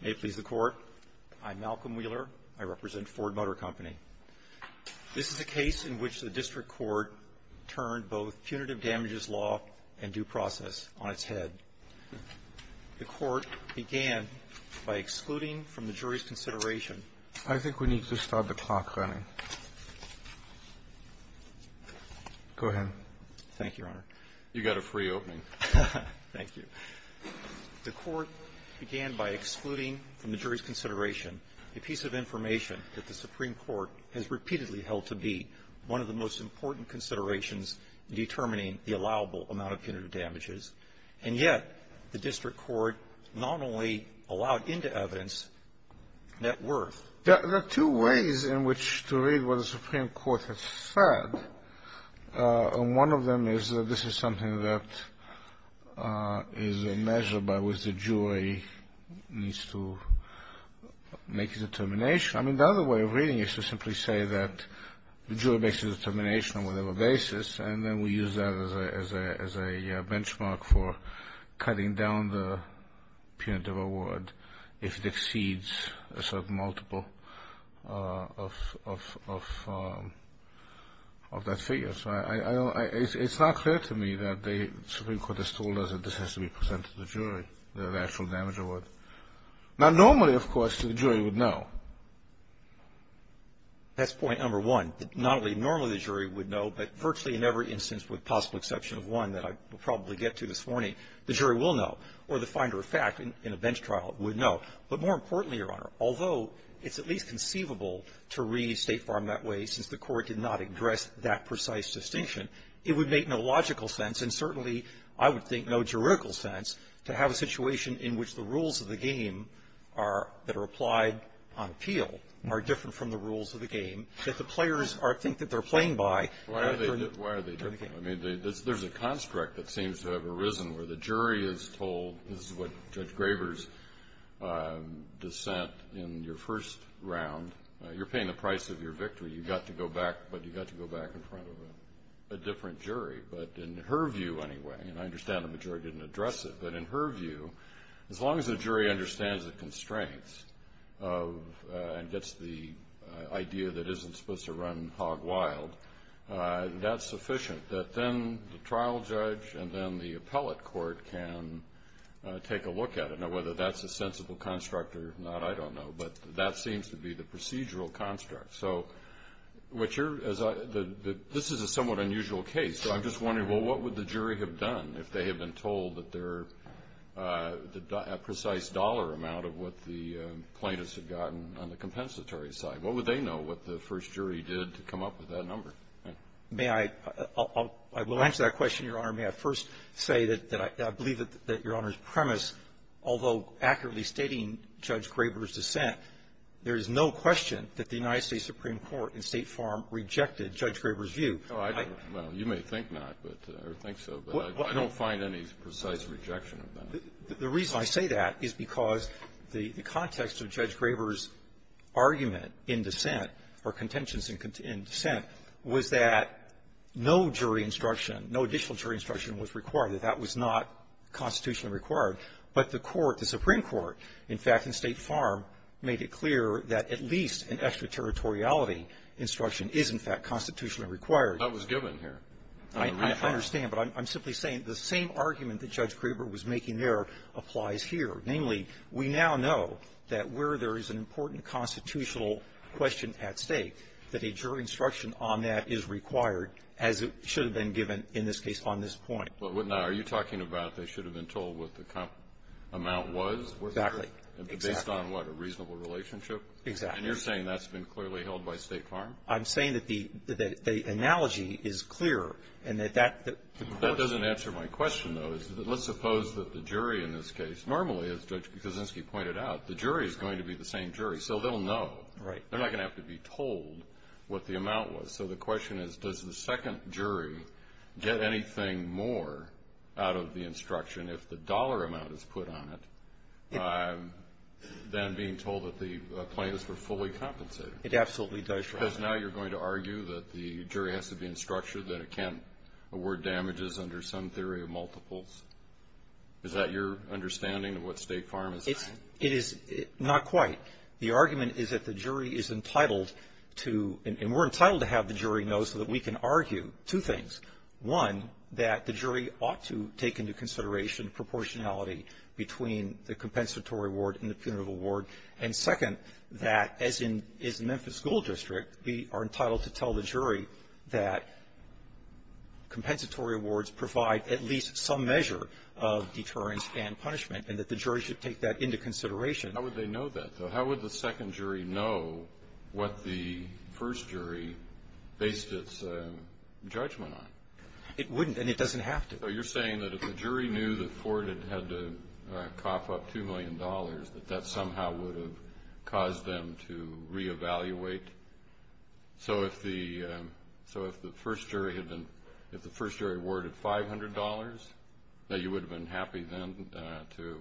May it please the Court, I'm Malcolm Wheeler. I represent Ford Motor Co. This is a case in which the District Court turned both punitive damages law and due process on its head. The Court began by excluding from the jury's consideration I think we need to stop the clock running. Go ahead. Thank you, Your Honor. You got a free opening. Thank you. The Court began by excluding from the jury's consideration a piece of information that the Supreme Court has repeatedly held to be one of the most important considerations in determining the allowable amount of punitive damages, and yet the District Court not only allowed into evidence net worth. There are two ways in which to read what the Supreme Court has said, and one of them is that this is something that is measured by which the jury needs to make a determination. I mean the other way of reading it is to simply say that the jury makes a determination on whatever basis, and then we use that as a benchmark for cutting down the punitive award if it exceeds a certain multiple of that figure. So it's not fair to me that the Supreme Court has told us that this has to be presented to the jury, the actual damage award. Now normally, of course, the jury would know. That's point number one, that not only normally the jury would know, but virtually in every instance with the possible exception of one that I will probably get to this morning, the jury will know or the finder of fact in a bench trial would know. But more importantly, Your Honor, although it's at least conceivable to read State Farm that way since the court did not address that precise distinction, it would make no logical sense and certainly I would think no juridical sense to have a situation in which the rules of the game that are applied on appeal are different from the rules of the game that the players think that they're playing by. Why are they different? There's a construct that seems to have arisen where the jury is told, this is what Judge Graber's dissent in your first round, you're paying the price of your victory. You've got to go back, but you've got to go back in front of a different jury. But in her view anyway, and I understand the majority didn't address it, but in her view, as long as the jury understands the constraints and gets the idea that it isn't supposed to run hog wild, that's sufficient that then the trial judge and then the appellate court can take a look at it. Now whether that's a sensible construct or not, I don't know, but that seems to be the procedural construct. So this is a somewhat unusual case, so I'm just wondering, well, what would the jury have done if they had been told a precise dollar amount of what the plaintiffs had gotten on the compensatory side? What would they know what the first jury did to come up with that number? I will answer that question, Your Honor. May I first say that I believe that Your Honor's premise, although accurately stating Judge Graber's dissent, there is no question that the United States Supreme Court in state form rejected Judge Graber's view. Oh, I don't know. You may think not or think so, but I don't find any precise rejection of that. The reason I say that is because the context of Judge Graber's argument in dissent or contentions in dissent was that no jury instruction, no additional jury instruction was required, that that was not constitutionally required, but the court, the Supreme Court, in fact, in state form, made it clear that at least an extraterritoriality instruction is, in fact, constitutionally required. That was given here. I understand, but I'm simply saying the same argument that Judge Graber was making there applies here. Namely, we now know that where there is an important constitutional question at stake, that a jury instruction on that is required, as it should have been given in this case on this point. Now, are you talking about they should have been told what the amount was? Exactly. Based on, like, a reasonable relationship? Exactly. And you're saying that's been clearly held by state form? I'm saying that the analogy is clear and that that- That doesn't answer my question, though. Let's suppose that the jury in this case, normally, as Judge Kozinski pointed out, the jury is going to be the same jury, so they'll know. They're not going to have to be told what the amount was. So the question is, does the second jury get anything more out of the instruction if the dollar amount is put on it than being told that the claim is for fully compensated? It absolutely does, Your Honor. Because now you're going to argue that the jury has to be instructed that it can't award damages under some theory of multiples? Is that your understanding of what state form is? It is not quite. The argument is that the jury is entitled to, and we're entitled to have the jury know so that we can argue two things. One, that the jury ought to take into consideration proportionality between the compensatory award and the penal award. And second, that as in Memphis School District, we are entitled to tell the jury that compensatory awards provide at least some measure of deterrence and punishment, and that the jury should take that into consideration. How would they know that, though? It wouldn't, and it doesn't have to. So you're saying that if the jury knew that Ford had had to cough up $2 million, that that somehow would have caused them to reevaluate? So if the first jury awarded $500, that you would have been happy then to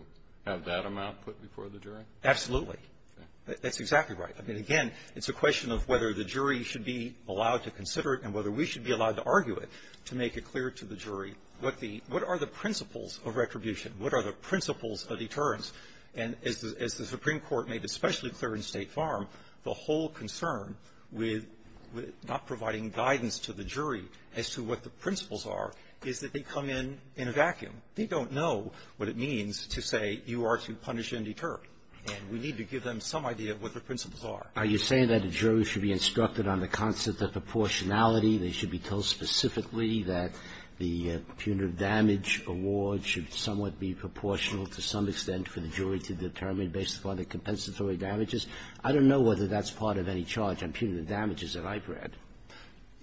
have that amount put before the jury? Absolutely. That's exactly right. I mean, again, it's a question of whether the jury should be allowed to consider it and whether we should be allowed to argue it to make it clear to the jury. What are the principles of retribution? What are the principles of deterrence? And as the Supreme Court made especially clear in State Farm, the whole concern with not providing guidance to the jury as to what the principles are is that they come in in a vacuum. They don't know what it means to say you are to punish and deter. And we need to give them some idea of what the principles are. Now, you're saying that the jury should be instructed on the concept of proportionality, they should be told specifically that the punitive damage award should somewhat be proportional to some extent for the jury to determine based upon the compensatory damages. I don't know whether that's part of any charge on punitive damages that I've read.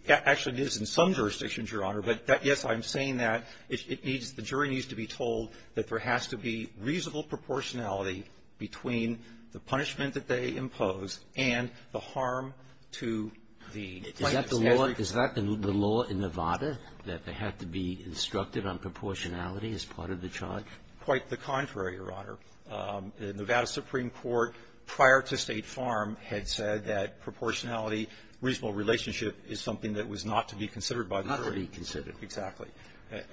Actually, it is in some jurisdictions, Your Honor. But yes, I'm saying that the jury needs to be told that there has to be reasonable proportionality between the punishment that they impose and the harm to the plaintiff. Is that the law in Nevada, that they have to be instructed on proportionality as part of the charge? Quite the contrary, Your Honor. The Nevada Supreme Court prior to State Farm had said that proportionality, reasonable relationship is something that was not to be considered by the jury. Not to be considered. Exactly.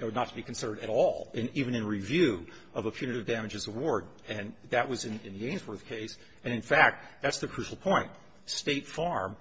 Or not to be considered at all, even in review of a punitive damages award. And that was in the Ainsworth case. And, in fact, that's the crucial point. State Farm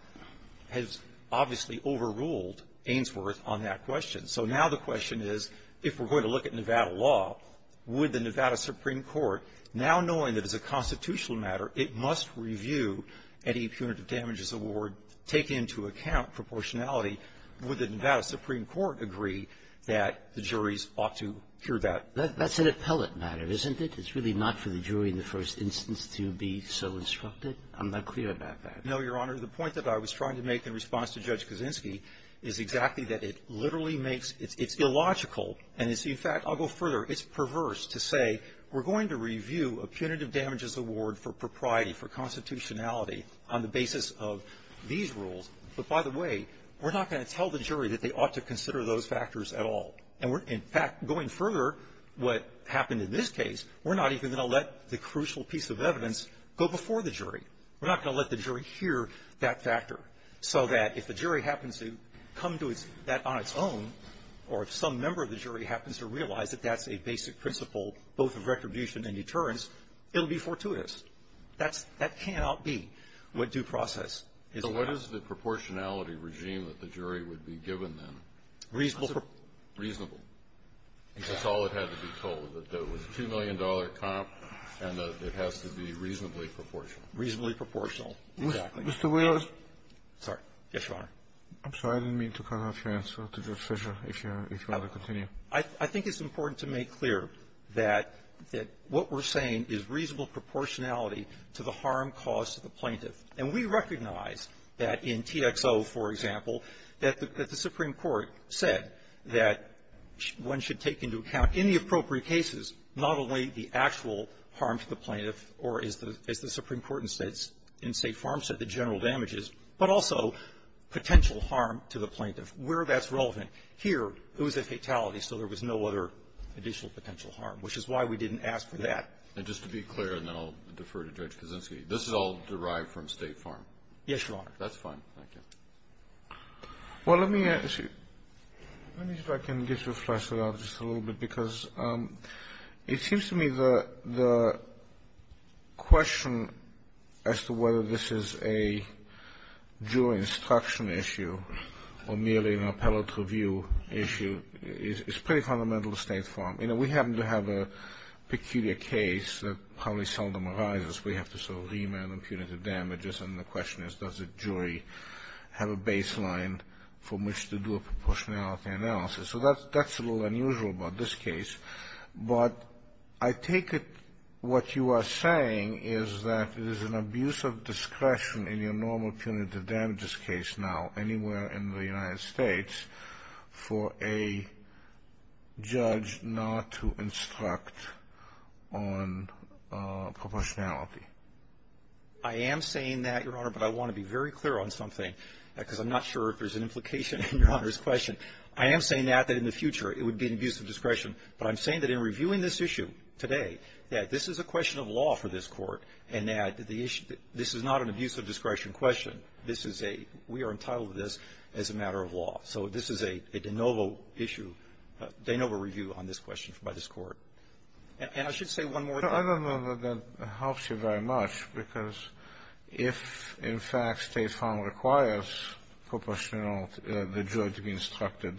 has obviously overruled Ainsworth on that question. So now the question is, if we're going to look at Nevada law, would the Nevada Supreme Court, now knowing that it's a constitutional matter, it must review any punitive damages award, take into account proportionality, would the Nevada Supreme Court agree that the juries ought to hear that? That's an appellate matter, isn't it? It's really not for the jury in the first instance to be so instructed. I'm not clear about that. No, Your Honor. The point that I was trying to make in response to Judge Kuczynski is exactly that. It literally makes – it's illogical. And, in fact, I'll go further. It's perverse to say we're going to review a punitive damages award for propriety, for constitutionality, on the basis of these rules. But, by the way, we're not going to tell the jury that they ought to consider those factors at all. And, in fact, going further, what happened in this case, we're not even going to let the crucial piece of evidence go before the jury. We're not going to let the jury hear that factor so that if the jury happens to come to that on its own or if some member of the jury happens to realize that that's a basic principle, both of retribution and deterrence, it will be fortuitous. That cannot be what due process is. What is the proportionality regime that the jury would be given then? Reasonable. Reasonable. That's all that had to be told, that there was a $2 million comp and that it has to be reasonably proportional. Reasonably proportional. Exactly. Mr. Williams. Sorry. Yes, Your Honor. I'm sorry. I didn't mean to cut off your answer. I think it's important to make clear that what we're saying is reasonable proportionality to the harm caused to the plaintiff. And we recognize that in TXO, for example, that the Supreme Court said that one should take into account, in the appropriate cases, not only the actual harm to the plaintiff or, as the Supreme Court in State Farm said, the general damages, but also potential harm to the plaintiff, where that's relevant. Here, it was a fatality, so there was no other additional potential harm, which is why we didn't ask for that. And just to be clear, and then I'll defer to Judge Kuczynski, this is all derived from State Farm. Yes, Your Honor. That's fine. Thank you. Well, let me ask you, let me see if I can just refresh it a little bit, because it seems to me the question as to whether this is a jury instruction issue or merely an appellate review issue is pretty fundamental to State Farm. You know, we happen to have a peculiar case that probably seldom arises. We have to sort of re-man the punitive damages, and the question is, does the jury have a baseline from which to do a proportionality analysis? So that's a little unusual about this case, but I take it what you are saying is that it is an abuse of discretion in your normal punitive damages case now, anywhere in the United States, for a judge not to instruct on proportionality. I am saying that, Your Honor, but I want to be very clear on something, because I'm not sure if there's an implication in Your Honor's question. I am saying that, that in the future it would be an abuse of discretion, but I'm saying that in reviewing this issue today, that this is a question of law for this court, and that this is not an abuse of discretion question. We are entitled to this as a matter of law. So this is a de novo issue, a de novo review on this question by this court. And I should say one more thing. I don't know if that helps you very much, because if in fact State Farm requires the judge to be instructed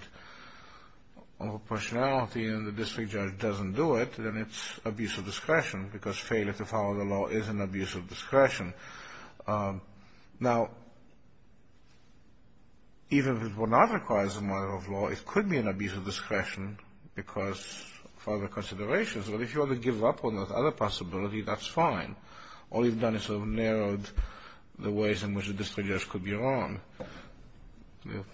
on proportionality, and the district judge doesn't do it, then it's abuse of discretion, because failure to follow the law is an abuse of discretion. Now, even if it were not required as a matter of law, it could be an abuse of discretion because of other considerations. But if you were to give up on those other possibilities, that's fine. All you've done is sort of narrowed the ways in which the district judge could be wrong.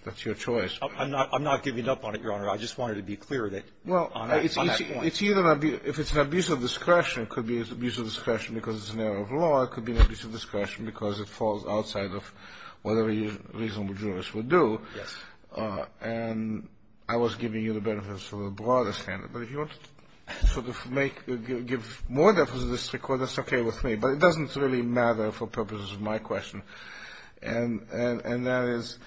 That's your choice. I'm not giving up on it, Your Honor. I just wanted to be clear on that point. Well, if it's an abuse of discretion, it could be an abuse of discretion because it's an error of law. It could be an abuse of discretion because it falls outside of whatever a reasonable jurist would do. Yes. And I was giving you the benefits of a broader standard. But if you want to sort of give more definition of this to the court, it's okay with me. But it doesn't really matter for purposes of my question. And that is,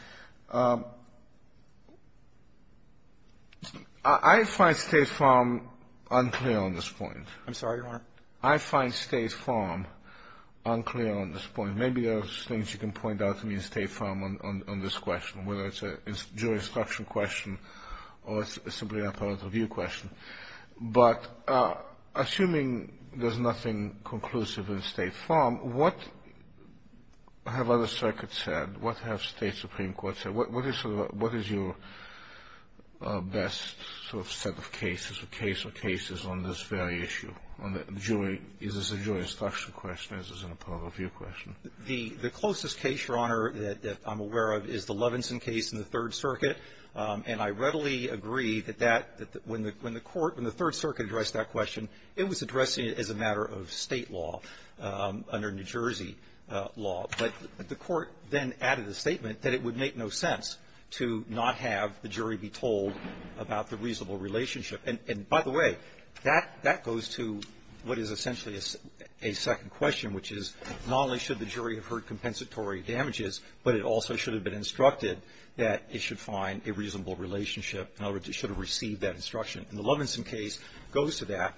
I find State Farm unclear on this point. I'm sorry, Your Honor. I find State Farm unclear on this point. Maybe there are things you can point out to me in State Farm on this question, whether it's a jurisdiction question or simply an appellate review question. But assuming there's nothing conclusive in State Farm, what have other circuits said? What have State Supreme Courts said? What is your best sort of set of cases or case of cases on this very issue? Is this a jurisdiction question or is this an appellate review question? The closest case, Your Honor, that I'm aware of is the Levinson case in the Third Circuit. And I readily agree that when the court in the Third Circuit addressed that question, it was addressing it as a matter of state law under New Jersey law. But the court then added a statement that it would make no sense to not have the jury be told about the reasonable relationship. And, by the way, that goes to what is essentially a second question, which is not only should the jury have heard compensatory damages, but it also should have been instructed that it should find a reasonable relationship in order that it should have received that instruction. And the Levinson case goes to that.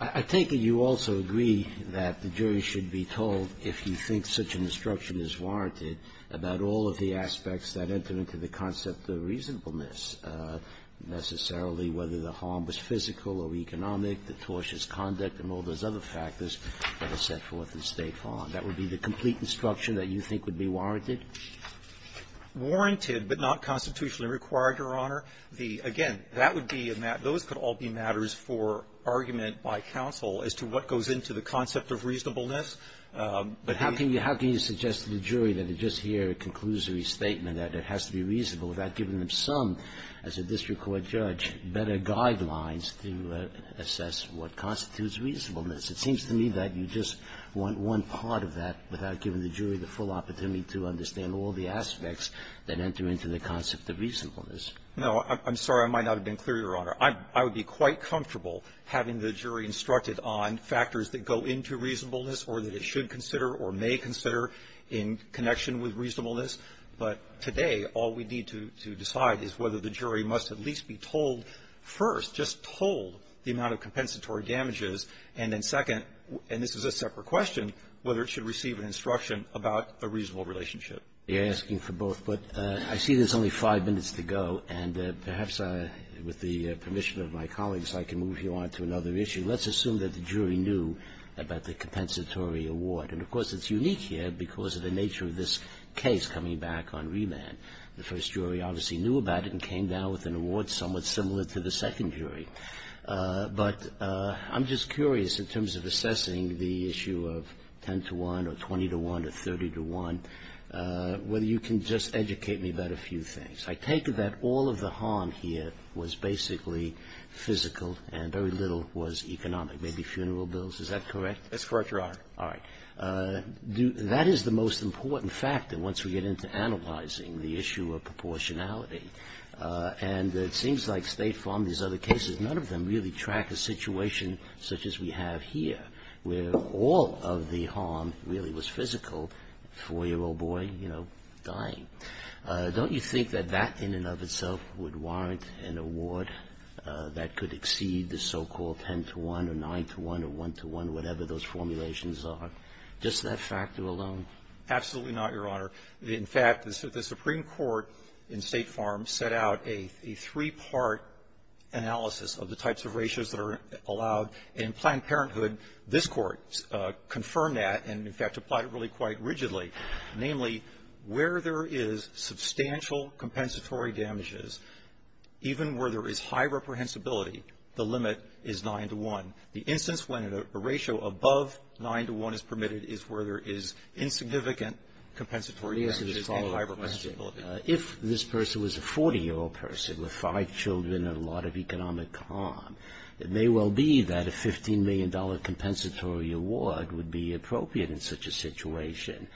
I think that you also agree that the jury should be told, if you think such an instruction is warranted, about all of the aspects that enter into the concept of reasonableness, necessarily whether the harm was physical or economic, the tortious conduct, and all those other factors that are set forth in State Farm. That would be the complete instruction that you think would be warranted? Warranted, but not constitutionally required, Your Honor. Again, those could all be matters for argument by counsel as to what goes into the concept of reasonableness. But how can you suggest to the jury that they just hear a conclusory statement that it has to be reasonable without giving them some, as a district court judge, better guidelines to assess what constitutes reasonableness? It seems to me that you just want one part of that without giving the jury the full opportunity to understand all the aspects that enter into the concept of reasonableness. No, I'm sorry. I might not have been clear, Your Honor. I would be quite comfortable having the jury instructed on factors that go into reasonableness or that it should consider or may consider in connection with reasonableness. But today, all we need to decide is whether the jury must at least be told first, just told the amount of compensatory damages, and then second, and this is a separate question, whether it should receive an instruction about a reasonable relationship. You're asking for both, but I see there's only five minutes to go, and perhaps with the permission of my colleagues I can move you on to another issue. Let's assume that the jury knew about the compensatory award, and of course it's unique here because of the nature of this case coming back on remand. The first jury obviously knew about it and came down with an award somewhat similar to the second jury. But I'm just curious in terms of assessing the issue of 10 to 1 or 20 to 1 or 30 to 1, whether you can just educate me about a few things. I take it that all of the harm here was basically physical and very little was economic, maybe funeral bills. Is that correct? That's correct, Your Honor. All right. That is the most important factor once we get into analyzing the issue of proportionality, and it seems like State Farm, these other cases, none of them really track a situation such as we have here where all of the harm really was physical, four-year-old boy, you know, dying. Don't you think that that in and of itself would warrant an award that could exceed the so-called 10 to 1 or 9 to 1 or 1 to 1, whatever those formulations are, just that factor alone? Absolutely not, Your Honor. In fact, the Supreme Court in State Farm set out a three-part analysis of the types of ratios that are allowed in Planned Parenthood. This court confirmed that and, in fact, applied it really quite rigidly, namely where there is substantial compensatory damages, even where there is high reprehensibility, the limit is 9 to 1. The instance when a ratio above 9 to 1 is permitted is where there is insignificant compensatory damages. If this person was a 40-year-old person with five children and a lot of economic harm, it may well be that a $15 million compensatory award would be appropriate in such a situation.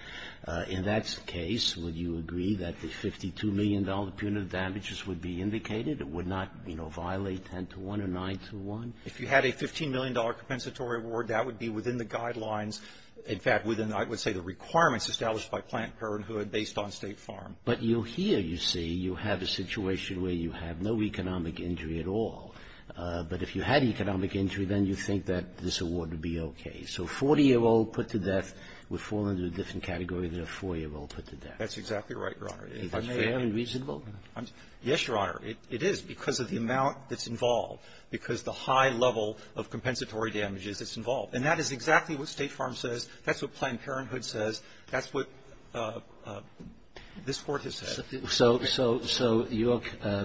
In that case, would you agree that the $52 million punitive damages would be indicated and would not, you know, violate 10 to 1 or 9 to 1? If you had a $15 million compensatory award, that would be within the guidelines. In fact, within, I would say, the requirements established by Planned Parenthood based on State Farm. But you'll hear, you see, you have a situation where you have no economic injury at all. But if you had economic injury, then you think that this award would be okay. So a 40-year-old put to death would fall into a different category than a 4-year-old put to death. That's exactly right, Your Honor. It's fairly reasonable. Yes, Your Honor, it is because of the amount that's involved, because of the high level of compensatory damages that's involved. And that is exactly what State Farm says. That's what Planned Parenthood says. That's what this Court has said. So your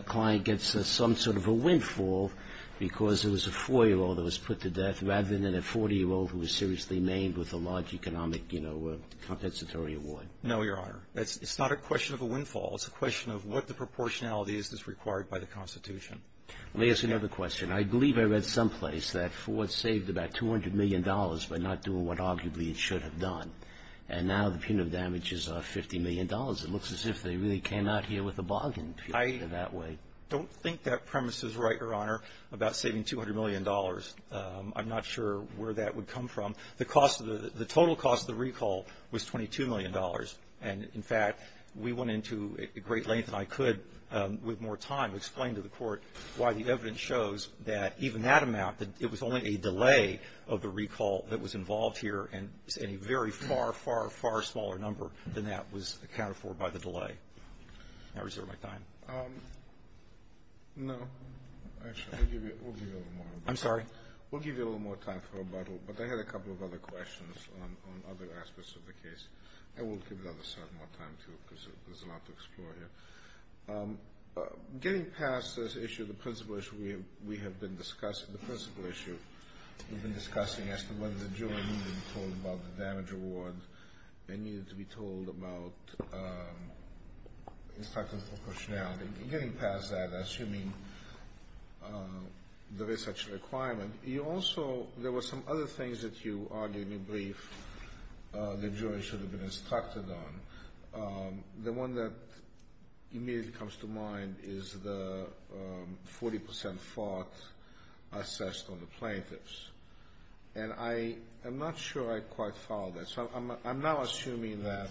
client gets some sort of a windfall because it was a 4-year-old that was put to death rather than a 40-year-old who was seriously maimed with a large economic, you know, compensatory award. No, Your Honor. It's not a question of a windfall. It's a question of what the proportionality is that's required by the Constitution. May I ask another question? I believe I read someplace that Ford saved about $200 million by not doing what arguably he should have done. And now the pin of damage is $50 million. It looks as if they really cannot deal with the bargain in that way. I don't think that premise is right, Your Honor, about saving $200 million. I'm not sure where that would come from. The total cost of the recall was $22 million. And, in fact, we went into great length, and I could with more time, explain to the Court why the evidence shows that even that amount, that it was only a delay of the recall that was involved here, and a very far, far, far smaller number than that was accounted for by the delay. May I reserve my time? No. Actually, we'll give you a little more time. I'm sorry? We'll give you a little more time for a bottle, but I had a couple of other questions on other aspects of the case. And we'll give the other side more time, too, because there's a lot to explore here. Getting past this issue, the principle issue we have been discussing, the principle issue we've been discussing, as to whether the jury needed to be told about the damage award, they needed to be told about instructing for pushdown. Getting past that, assuming there is such a requirement, you also, there were some other things that you argued in brief the jury should have been instructed on. The one that immediately comes to mind is the 40% fraud assessed on the plaintiffs. And I am not sure I quite followed that. So I'm now assuming that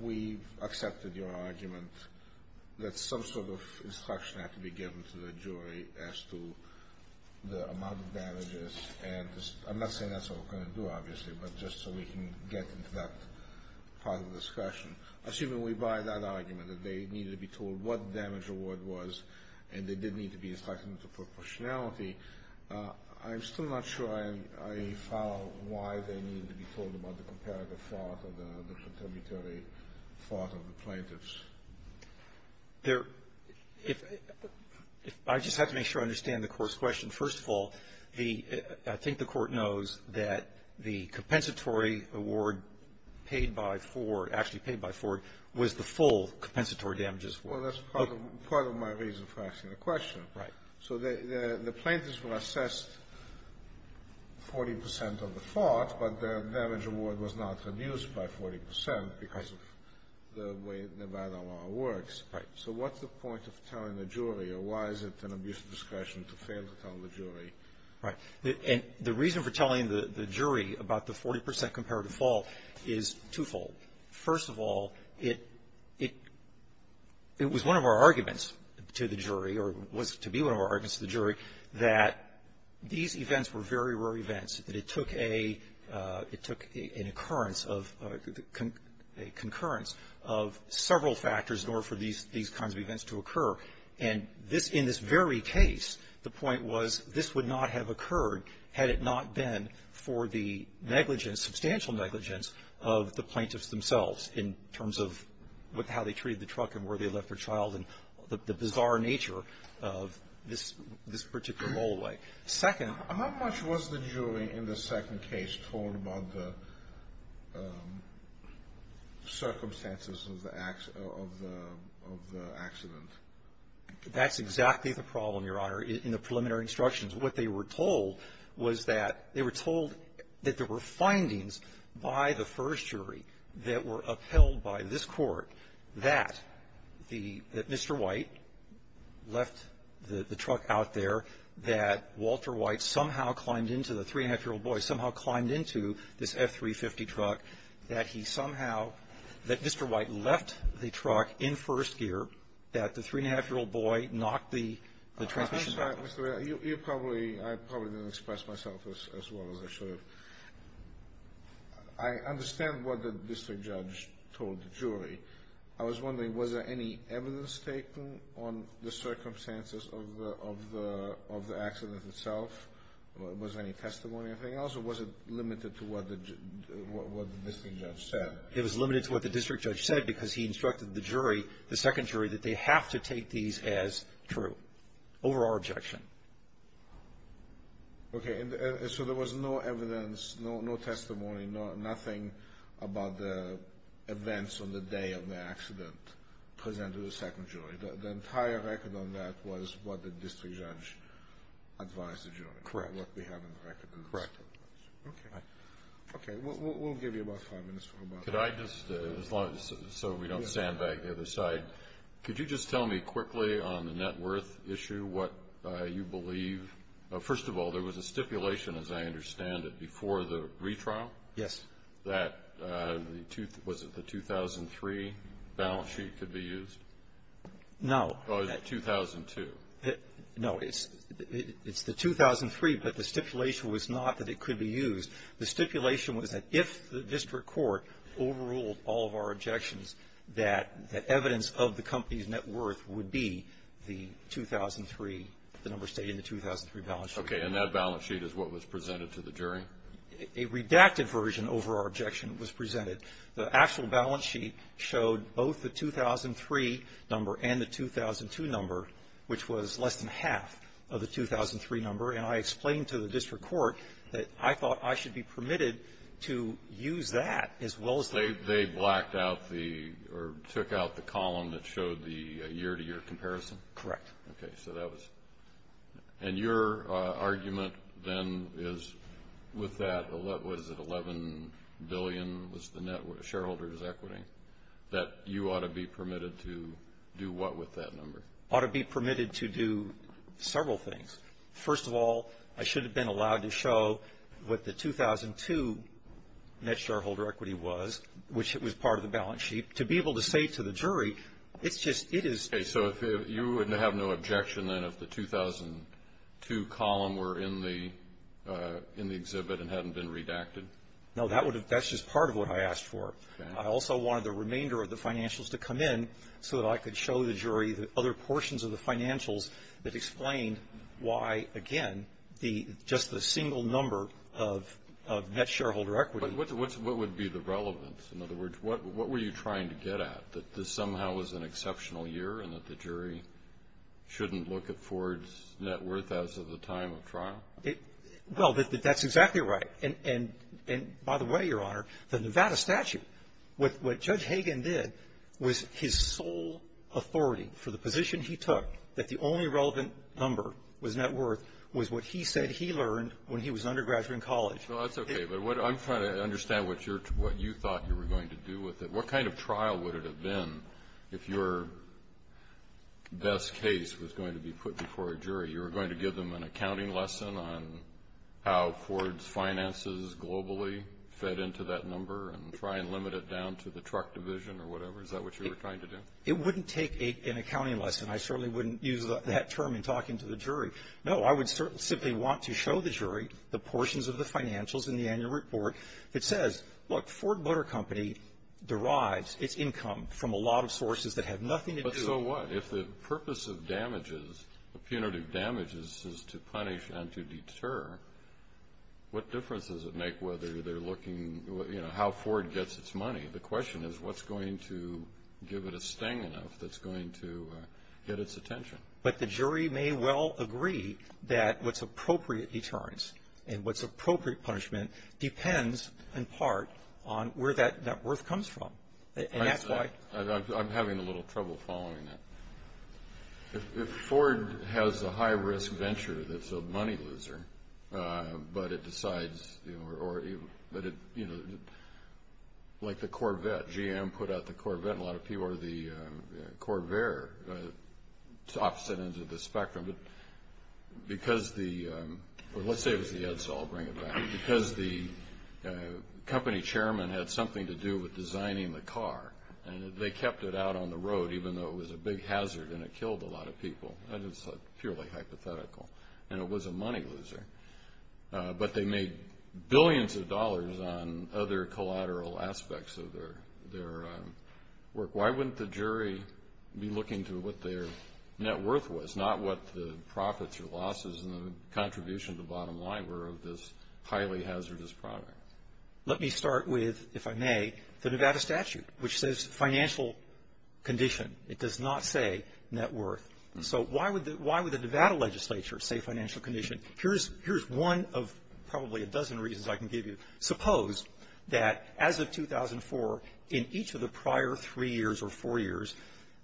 we accepted your argument that some sort of instruction had to be given to the jury as to the amount of damages. And I'm not saying that's what we're going to do, obviously, but just so we can get into that part of the discussion. Assuming we buy that argument that they needed to be told what the damage award was and they did need to be instructed to put questionality, I'm still not sure I follow why they needed to be told about the comparative fraud of the fatality fraud of the plaintiffs. I just have to make sure I understand the court's question. First of all, I think the court knows that the compensatory award paid by Ford, actually paid by Ford, was the full compensatory damages. Well, that's part of my reason for asking the question. Right. So the plaintiffs were assessed 40% of the fraud, but their damage award was not reduced by 40% because of the way the ban on fraud works. Right. So what's the point of telling the jury, and why is it an amusing discussion to fail to tell the jury? Right. And the reason for telling the jury about the 40% comparative fault is twofold. First of all, it was one of our arguments to the jury, or was to be one of our arguments to the jury, that these events were very rare events, that it took an occurrence of several factors in order for these kinds of events to occur. And in this very case, the point was this would not have occurred had it not been for the negligence, substantial negligence, of the plaintiffs themselves in terms of how they treated the truck and where they left their child and the bizarre nature of this particular rollaway. Second, how much was the jury in this second case told about the circumstances of the accident? That's exactly the problem, Your Honor, in the preliminary instructions. What they were told was that they were told that there were findings by the first jury that were upheld by this court that Mr. White left the truck out there that Walter White somehow climbed into the three-and-a-half-year-old boy, somehow climbed into this F350 truck, that he somehow, that Mr. White left the truck in first gear, that the three-and-a-half-year-old boy knocked the truck down. I'm sorry, Mr. Ray. You probably, I probably didn't express myself as well as I should have. I understand what the district judge told the jury. I was wondering, was there any evidence taken on the circumstances of the accident itself? Was there any testimony or anything else, or was it limited to what the district judge said? It was limited to what the district judge said because he instructed the jury, the second jury, that they have to take these as true, over our objection. Okay, so there was no evidence, no testimony, nothing about the events on the day of the accident presented to the second jury. The entire record on that was what the district judge advised the jury. Correct. What we have on the record. Correct. Okay. Okay, we'll give you about five minutes for that. Could I just, so we don't sandbag the other side, could you just tell me quickly on the net worth issue what you believe? First of all, there was a stipulation, as I understand it, before the retrial. Yes. Was it the 2003 balance sheet could be used? No. Or was it 2002? No, it's the 2003, but the stipulation was not that it could be used. The stipulation was that if the district court overruled all of our objections, that evidence of the company's net worth would be the 2003, the number stating the 2003 balance sheet. Okay, and that balance sheet is what was presented to the jury? A redacted version over our objection was presented. The actual balance sheet showed both the 2003 number and the 2002 number, which was less than half of the 2003 number, and I explained to the district court that I thought I should be permitted to use that. They blacked out the, or took out the column that showed the year-to-year comparison? Correct. Okay, so that was, and your argument then is with that, was it $11 billion was the net shareholder's equity, that you ought to be permitted to do what with that number? Ought to be permitted to do several things. First of all, I should have been allowed to show what the 2002 net shareholder equity was, which it was part of the balance sheet. To be able to say to the jury, it's just, it is. Okay, so you would have no objection then if the 2002 column were in the exhibit and hadn't been redacted? No, that's just part of what I asked for. I also wanted the remainder of the financials to come in so that I could show the jury the other portions of the financials that explain why, again, just the single number of net shareholder equity. What would be the relevance? In other words, what were you trying to get at? That this somehow was an exceptional year and that the jury shouldn't look at Ford's net worth as of the time of trial? Well, that's exactly right. And by the way, Your Honor, the Nevada statute, what Judge Hagan did was his sole authority for the position he took, that the only relevant number was net worth, was what he said he learned when he was an undergraduate in college. Well, that's okay, but I'm trying to understand what you thought you were going to do with it. What kind of trial would it have been if your best case was going to be put before a jury? You were going to give them an accounting lesson on how Ford's finances globally fed into that number and try and limit it down to the truck division or whatever? Is that what you were trying to do? It wouldn't take an accounting lesson. I certainly wouldn't use that term in talking to the jury. No, I would simply want to show the jury the portions of the financials in the annual report. It says, look, Ford Motor Company derives its income from a lot of sources that have nothing to do with it. But so what? If the purpose of damages, the punitive damages, is to punish and to deter, what difference does it make whether they're looking at how Ford gets its money? The question is, what's going to give it a stangling that's going to get its attention? But the jury may well agree that what's appropriate deterrence and what's appropriate punishment depends, in part, on where that net worth comes from. I'm having a little trouble following that. If Ford has a high-risk venture that's a money loser, but it decides, like the Corvette, GM put out the Corvette and a lot of people are the Corvair, it's opposite ends of the spectrum. But because the company chairman had something to do with designing the car, they kept it out on the road even though it was a big hazard and it killed a lot of people. It's purely hypothetical. And it was a money loser. But they made billions of dollars on other collateral aspects of their work. Why wouldn't the jury be looking to what their net worth was, not what the profits or losses and the contribution to the bottom line were of this highly hazardous product? Let me start with, if I may, the Nevada statute, which says financial condition. It does not say net worth. So why would the Nevada legislature say financial condition? Here's one of probably a dozen reasons I can give you. Suppose that as of 2004, in each of the prior three years or four years,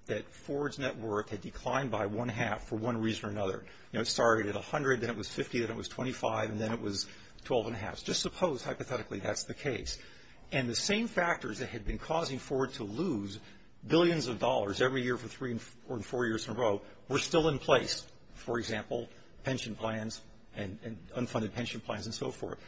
that Ford's net worth had declined by one half for one reason or another. It started at $100, then it was $50, then it was $25, and then it was $12.5. Just suppose, hypothetically, that's the case. And the same factors that had been causing Ford to lose billions of dollars every year for three or four years in a row were still in place, for example, pension plans and unfunded pension plans and so forth.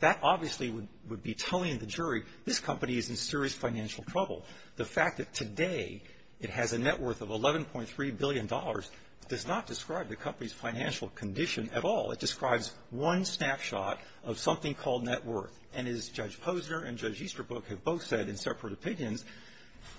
That obviously would be telling the jury, this company is in serious financial trouble. The fact that today it has a net worth of $11.3 billion does not describe the company's financial condition at all. It describes one snapshot of something called net worth. And as Judge Posner and Judge Easterbrook have both said in separate opinions,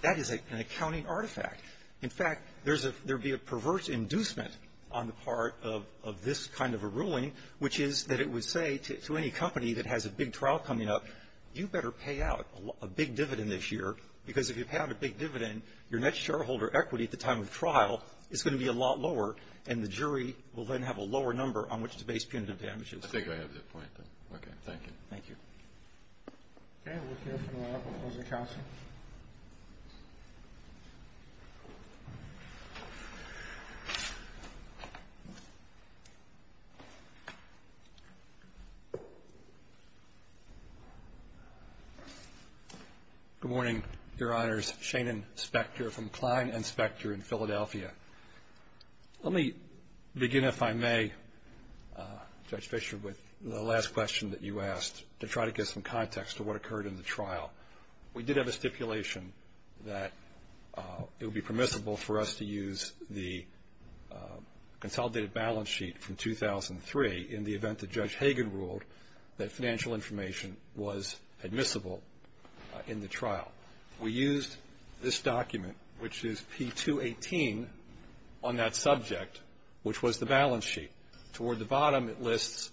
that is an accounting artifact. In fact, there would be a perverse inducement on the part of this kind of a ruling, which is that it would say to any company that has a big trial coming up, you better pay out a big dividend this year because if you pay out a big dividend, your net shareholder equity at the time of the trial is going to be a lot lower and the jury will then have a lower number on which to base punitive damages. I think I have that point then. Okay, thank you. Thank you. Good morning, Your Honors. My name is Shannon Spector from Kline and Spector in Philadelphia. Let me begin, if I may, Judge Fischer, with the last question that you asked to try to get some context to what occurred in the trial. We did have a stipulation that it would be permissible for us to use the consolidated balance sheet from 2003 in the event that Judge Hagan ruled that financial information was admissible in the trial. We used this document, which is P218, on that subject, which was the balance sheet. Toward the bottom, it lists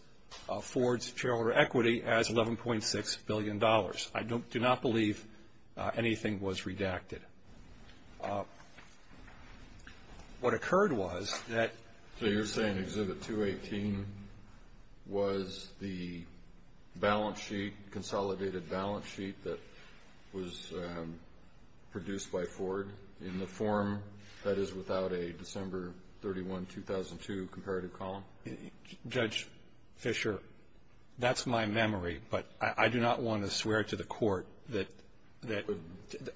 Ford's shareholder equity as $11.6 billion. I do not believe anything was redacted. What occurred was that – The balance sheet, consolidated balance sheet that was produced by Ford in the form that is without a December 31, 2002, comparative column? Judge Fischer, that's my memory, but I do not want to swear to the court that –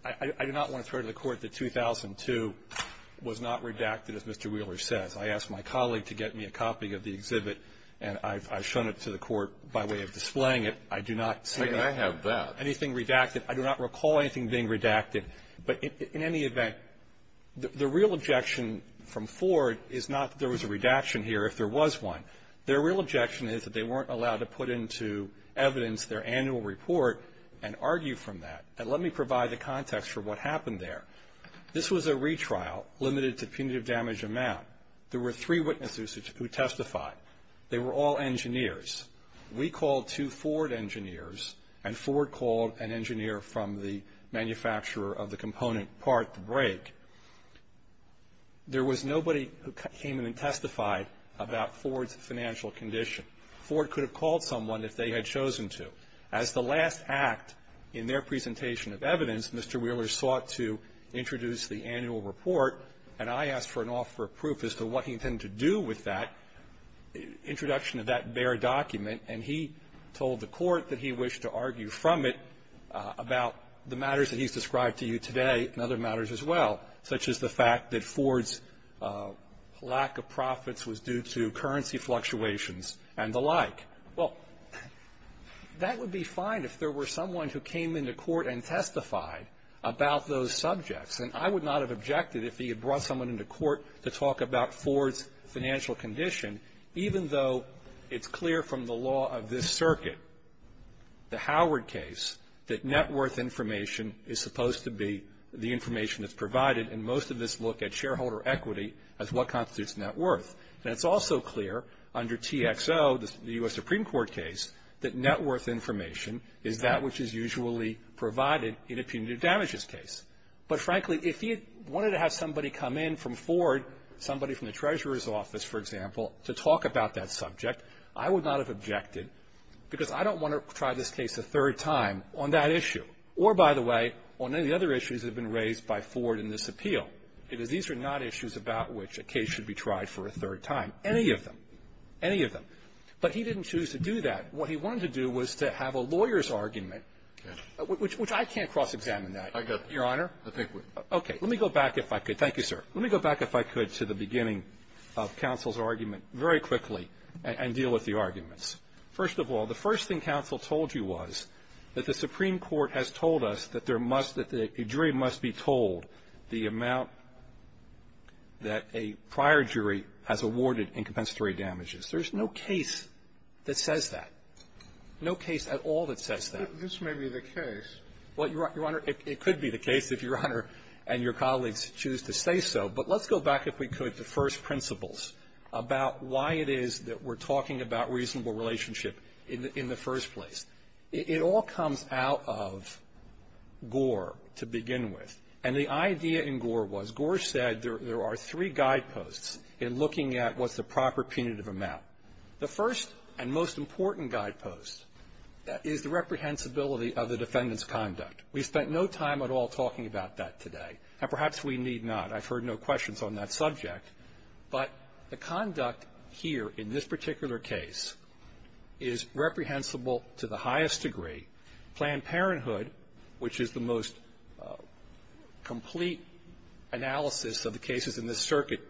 I do not want to swear to the court that 2002 was not redacted, as Mr. Wheeler said. I asked my colleague to get me a copy of the exhibit, and I've shown it to the court by way of displaying it. I do not see anything redacted. I do not recall anything being redacted. But in any event, the real objection from Ford is not that there was a redaction here if there was one. Their real objection is that they weren't allowed to put into evidence their annual report and argue from that. And let me provide the context for what happened there. This was a retrial limited to punitive damage amount. There were three witnesses who testified. They were all engineers. We called two Ford engineers, and Ford called an engineer from the manufacturer of the component part to break. There was nobody who came in and testified about Ford's financial condition. Ford could have called someone if they had chosen to. As the last act in their presentation of evidence, Mr. Wheeler sought to introduce the annual report, and I asked for an offer of proof as to what he intended to do with that introduction of that bare document, and he told the court that he wished to argue from it about the matters that he's described to you today and other matters as well, such as the fact that Ford's lack of profits was due to currency fluctuations and the like. Well, that would be fine if there were someone who came into court and testified about those subjects, and I would not have objected if he had brought someone into court to talk about Ford's financial condition, even though it's clear from the law of this circuit, the Howard case, that net worth information is supposed to be the information that's provided, and most of us look at shareholder equity as what constitutes net worth. And it's also clear under TXO, the U.S. Supreme Court case, that net worth information is that which is usually provided in a punitive damages case. But frankly, if he wanted to have somebody come in from Ford, somebody from the treasurer's office, for example, to talk about that subject, I would not have objected because I don't want to try this case a third time on that issue, or, by the way, on any other issues that have been raised by Ford in this appeal. These are not issues about which a case should be tried for a third time, any of them, any of them. But he didn't choose to do that. What he wanted to do was to have a lawyer's argument, which I can't cross-examine that, Your Honor. Okay. Let me go back, if I could. Thank you, sir. Let me go back, if I could, to the beginning of counsel's argument very quickly and deal with the arguments. First of all, the first thing counsel told you was that the Supreme Court has told us that a jury must be told the amount that a prior jury has awarded in compensatory damages. There's no case that says that, no case at all that says that. This may be the case. Well, Your Honor, it could be the case if Your Honor and your colleagues choose to say so. But let's go back, if we could, to first principles about why it is that we're talking about reasonable relationship in the first place. It all comes out of Gore to begin with. And the idea in Gore was, Gore said there are three guideposts in looking at what's the proper punitive amount. The first and most important guidepost is the reprehensibility of the defendant's conduct. We've spent no time at all talking about that today, and perhaps we need not. I've heard no questions on that subject. But the conduct here in this particular case is reprehensible to the highest degree. Planned Parenthood, which is the most complete analysis of the cases in this circuit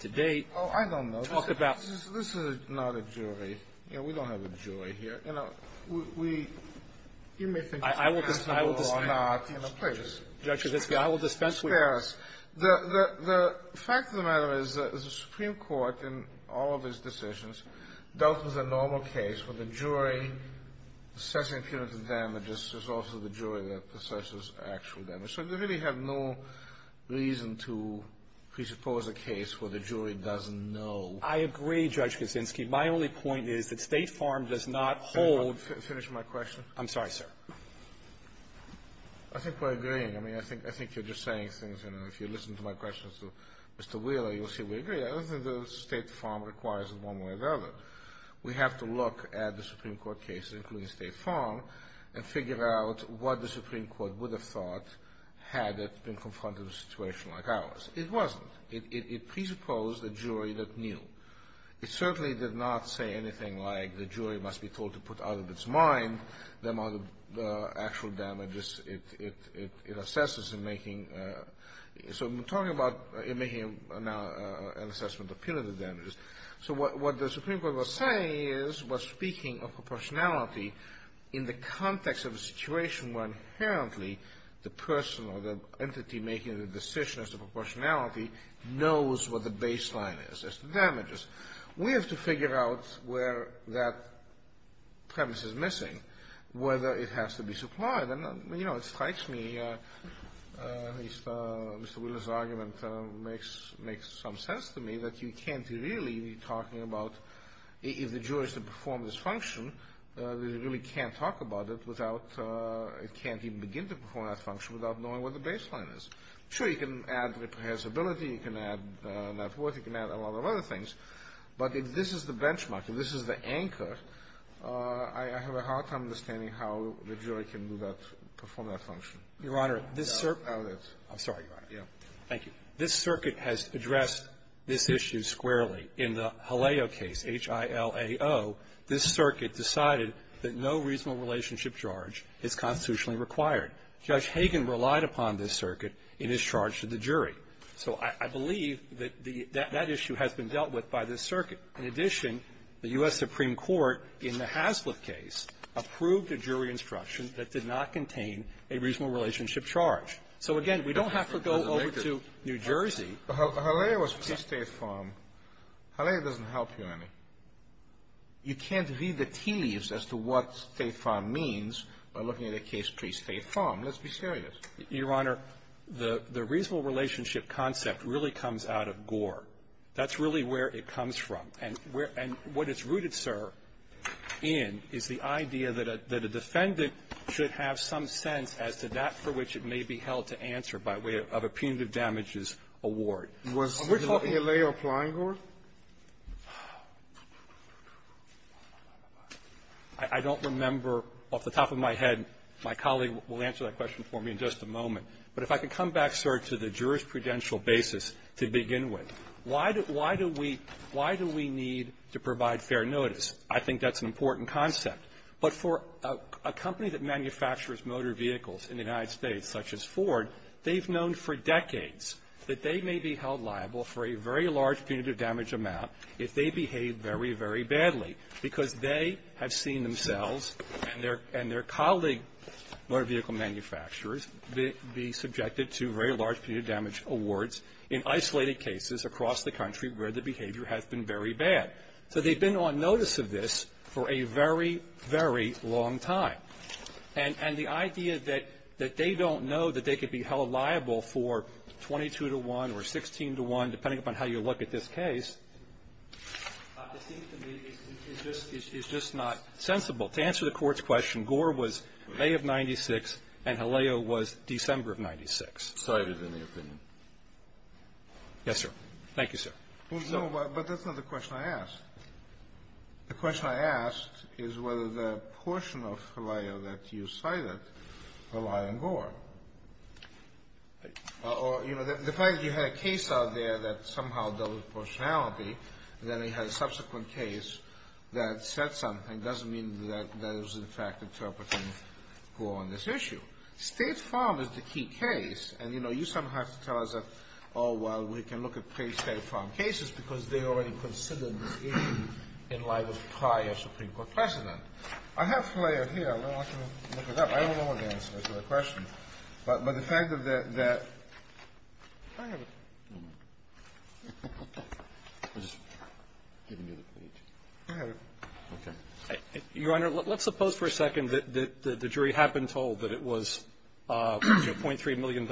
to date, talked about. Oh, I don't know. This is not a jury. You know, we don't have a jury here. You know, we... I will dispense with that. Please. Judge, I will dispense with that. Spare us. The fact of the matter is that the Supreme Court in all of its decisions dealt with a normal case where the jury assessing punitive damages is also the jury that assesses actual damage. So we really have no reason to presuppose a case where the jury doesn't know. I agree, Judge Kuczynski. My only point is that State Farm does not hold... Finish my question. I'm sorry, sir. I think we're agreeing. I mean, I think you're just saying... If you listen to my questions to Mr. Wheeler, you'll see we agree. I don't think that State Farm requires it one way or the other. We have to look at the Supreme Court case, including State Farm, and figure out what the Supreme Court would have thought had it been confronted with a situation like ours. It wasn't. It presupposed a jury that knew. It certainly did not say anything like the jury must be told to put out of its mind the amount of actual damages it assesses in making... So we're talking about making an assessment of punitive damages. So what the Supreme Court was saying is, was speaking of proportionality in the context of a situation where inherently the person or the entity making the decision as to proportionality knows what the baseline is as to damages. We have to figure out where that premise is missing, whether it has to be supplied. And, you know, it strikes me, at least Mr. Wheeler's argument makes some sense to me, that you can't really be talking about, if the jury is to perform this function, that you really can't talk about it without... It can't even begin to perform that function without knowing what the baseline is. Sure, you can add repressibility, you can add net worth, you can add a lot of other things, but if this is the benchmark, if this is the anchor, I have a hard time understanding how the jury can do that, perform that function. Your Honor, this circuit... I'm sorry, Your Honor. Thank you. This circuit has addressed this issue squarely. In the Haleo case, H-I-L-A-O, this circuit decided that no reasonable relationship charge is constitutionally required. Judge Hagen relied upon this circuit. It is charged to the jury. So I believe that that issue has been dealt with by this circuit. In addition, the U.S. Supreme Court, in the Haslip case, approved a jury instruction that did not contain a reasonable relationship charge. So, again, we don't have to go over to New Jersey... Haleo was pre-State Farm. Haleo doesn't help here any. You can't read the tea leaves as to what State Farm means by looking at a case pre-State Farm. Let's be serious. Your Honor, the reasonable relationship concept really comes out of Gore. That's really where it comes from. And what it's rooted, sir, in is the idea that a defendant should have some sense as to that for which it may be held to answer by way of a punitive damages award. Was Haleo applying Gore? Haleo? I don't remember off the top of my head. My colleague will answer that question for me in just a moment. But if I can come back, sir, to the jurisprudential basis to begin with. Why do we need to provide fair notice? I think that's an important concept. But for a company that manufactures motor vehicles in the United States, such as Ford, they've known for decades that they may be held liable for a very large punitive damage amount if they behave very, very badly because they have seen themselves and their colleague motor vehicle manufacturers be subjected to very large punitive damage awards in isolated cases across the country where the behavior has been very bad. So they've been on notice of this for a very, very long time. And the idea that they don't know that they could be held liable for 22 to 1 or 16 to 1, depending upon how you look at this case, is just not sensible. To answer the court's question, Gore was May of 96 and Haleo was December of 96. Sorry to have been in your opinion. Yes, sir. Thank you, sir. No, but that's not the question I asked. The question I asked is whether the portion of Haleo that you cited relied on Gore. Or, you know, the fact that you had a case out there that somehow dealt with partiality, and then it had a subsequent case that said something doesn't mean that it was, in fact, interpreting Gore on this issue. State farm is the key case. And, you know, you somehow have to tell us that, oh, well, we can look at pre-state farm cases because they already considered the issue in light of prior Supreme Court precedent. I have Flair here. I don't know if I can look it up. I don't know what the answer is to the question. But the fact that that. Your Honor, let's suppose for a second that the jury had been told that it was a $0.3 million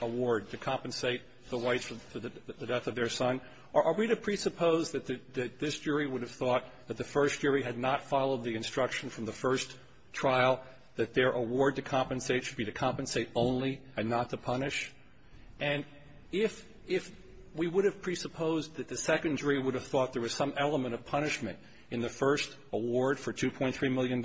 award to compensate the wife for the death of their son. Are we to presuppose that this jury would have thought that the first jury had not followed the instruction from the first trial that their award to compensate should be to compensate only and not to punish? And if we would have presupposed that the second jury would have thought there was some element of punishment in the first award for $2.3 million,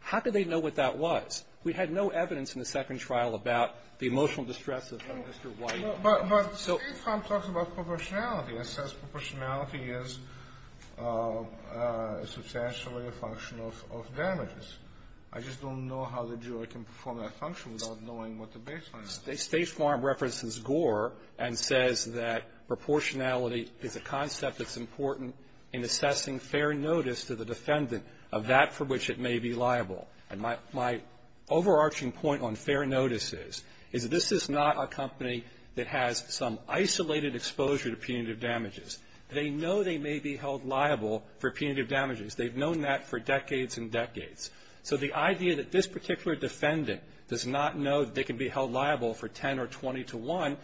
how could they know what that was? We had no evidence in the second trial about the emotional distress of Mr. White. But State Farm talks about proportionality. It says proportionality is substantially a function of damages. I just don't know how the jury can perform that function without knowing what the baseline is. State Farm references Gore and says that proportionality is a concept that's important in assessing fair notice to the defendant of that for which it may be liable. And my overarching point on fair notice is that this is not a company that has some isolated exposure to punitive damages. They know they may be held liable for punitive damages. They've known that for decades and decades. So the idea that this particular defendant does not know they can be held liable for 10 or 20 to 1,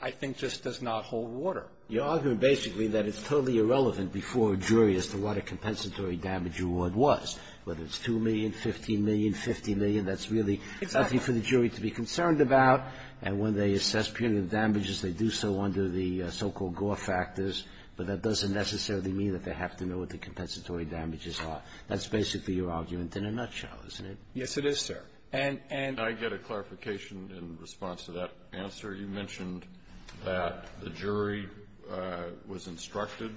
I think just does not hold water. You're arguing basically that it's totally irrelevant before a jury as to what a compensatory damage award was, whether it's $2 million, $15 million, $50 million. That's really nothing for the jury to be concerned about. And when they assess punitive damages, they do so under the so-called Gore factors. But that doesn't necessarily mean that they have to know what the compensatory damages are. That's basically your argument in a nutshell, isn't it? Yes, it is, sir. And I get a clarification in response to that answer. You mentioned that the jury was instructed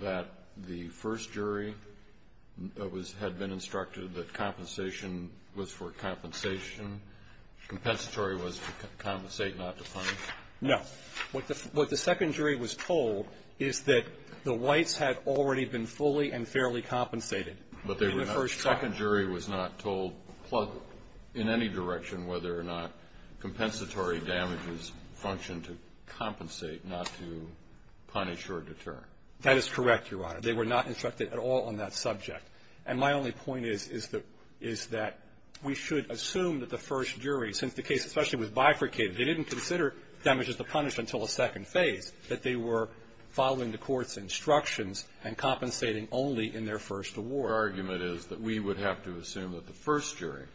that the first jury had been instructed that compensation was for compensation. Compensatory was to compensate, not to punish. No. What the second jury was told is that the whites had already been fully and fairly compensated. The second jury was not told in any direction whether or not compensatory damages functioned to compensate, not to punish or deter. That is correct, Your Honor. They were not instructed at all on that subject. And my only point is that we should assume that the first jury, since the case essentially was bifurcated, they didn't consider damages to punish until a second phase, that they were following the court's instructions and compensating only in their first award. Our argument is that we would have to assume that the first jury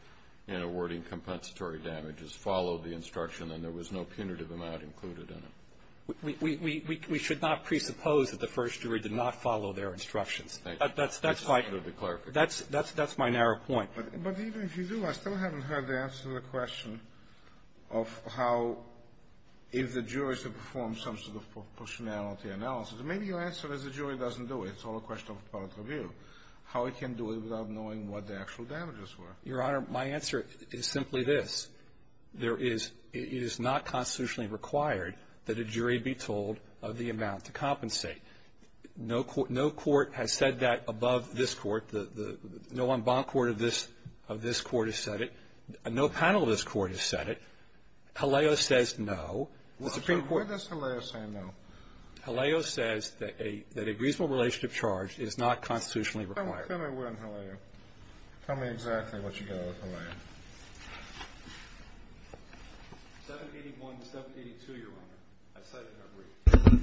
in awarding compensatory damages followed the instruction and there was no punitive amount included in it. We should not presuppose that the first jury did not follow their instructions. That's my narrow point. But even if you do, I still haven't heard the answer to the question of how, if the jury should perform some sort of proportionality analysis. And maybe your answer is the jury doesn't do it. It's all a question of political view, how it can do it without knowing what the actual damages were. Your Honor, my answer is simply this. It is not constitutionally required that a jury be told of the amount to compensate. No court has said that above this court. No en banc court of this court has said it. No panel of this court has said it. Haleo says no. Why does Haleo say no? Haleo says that a reasonable relationship charge is not constitutionally required. Tell me when, Haleo. Tell me exactly what you did with Haleo. 17.782, Your Honor. I said the number.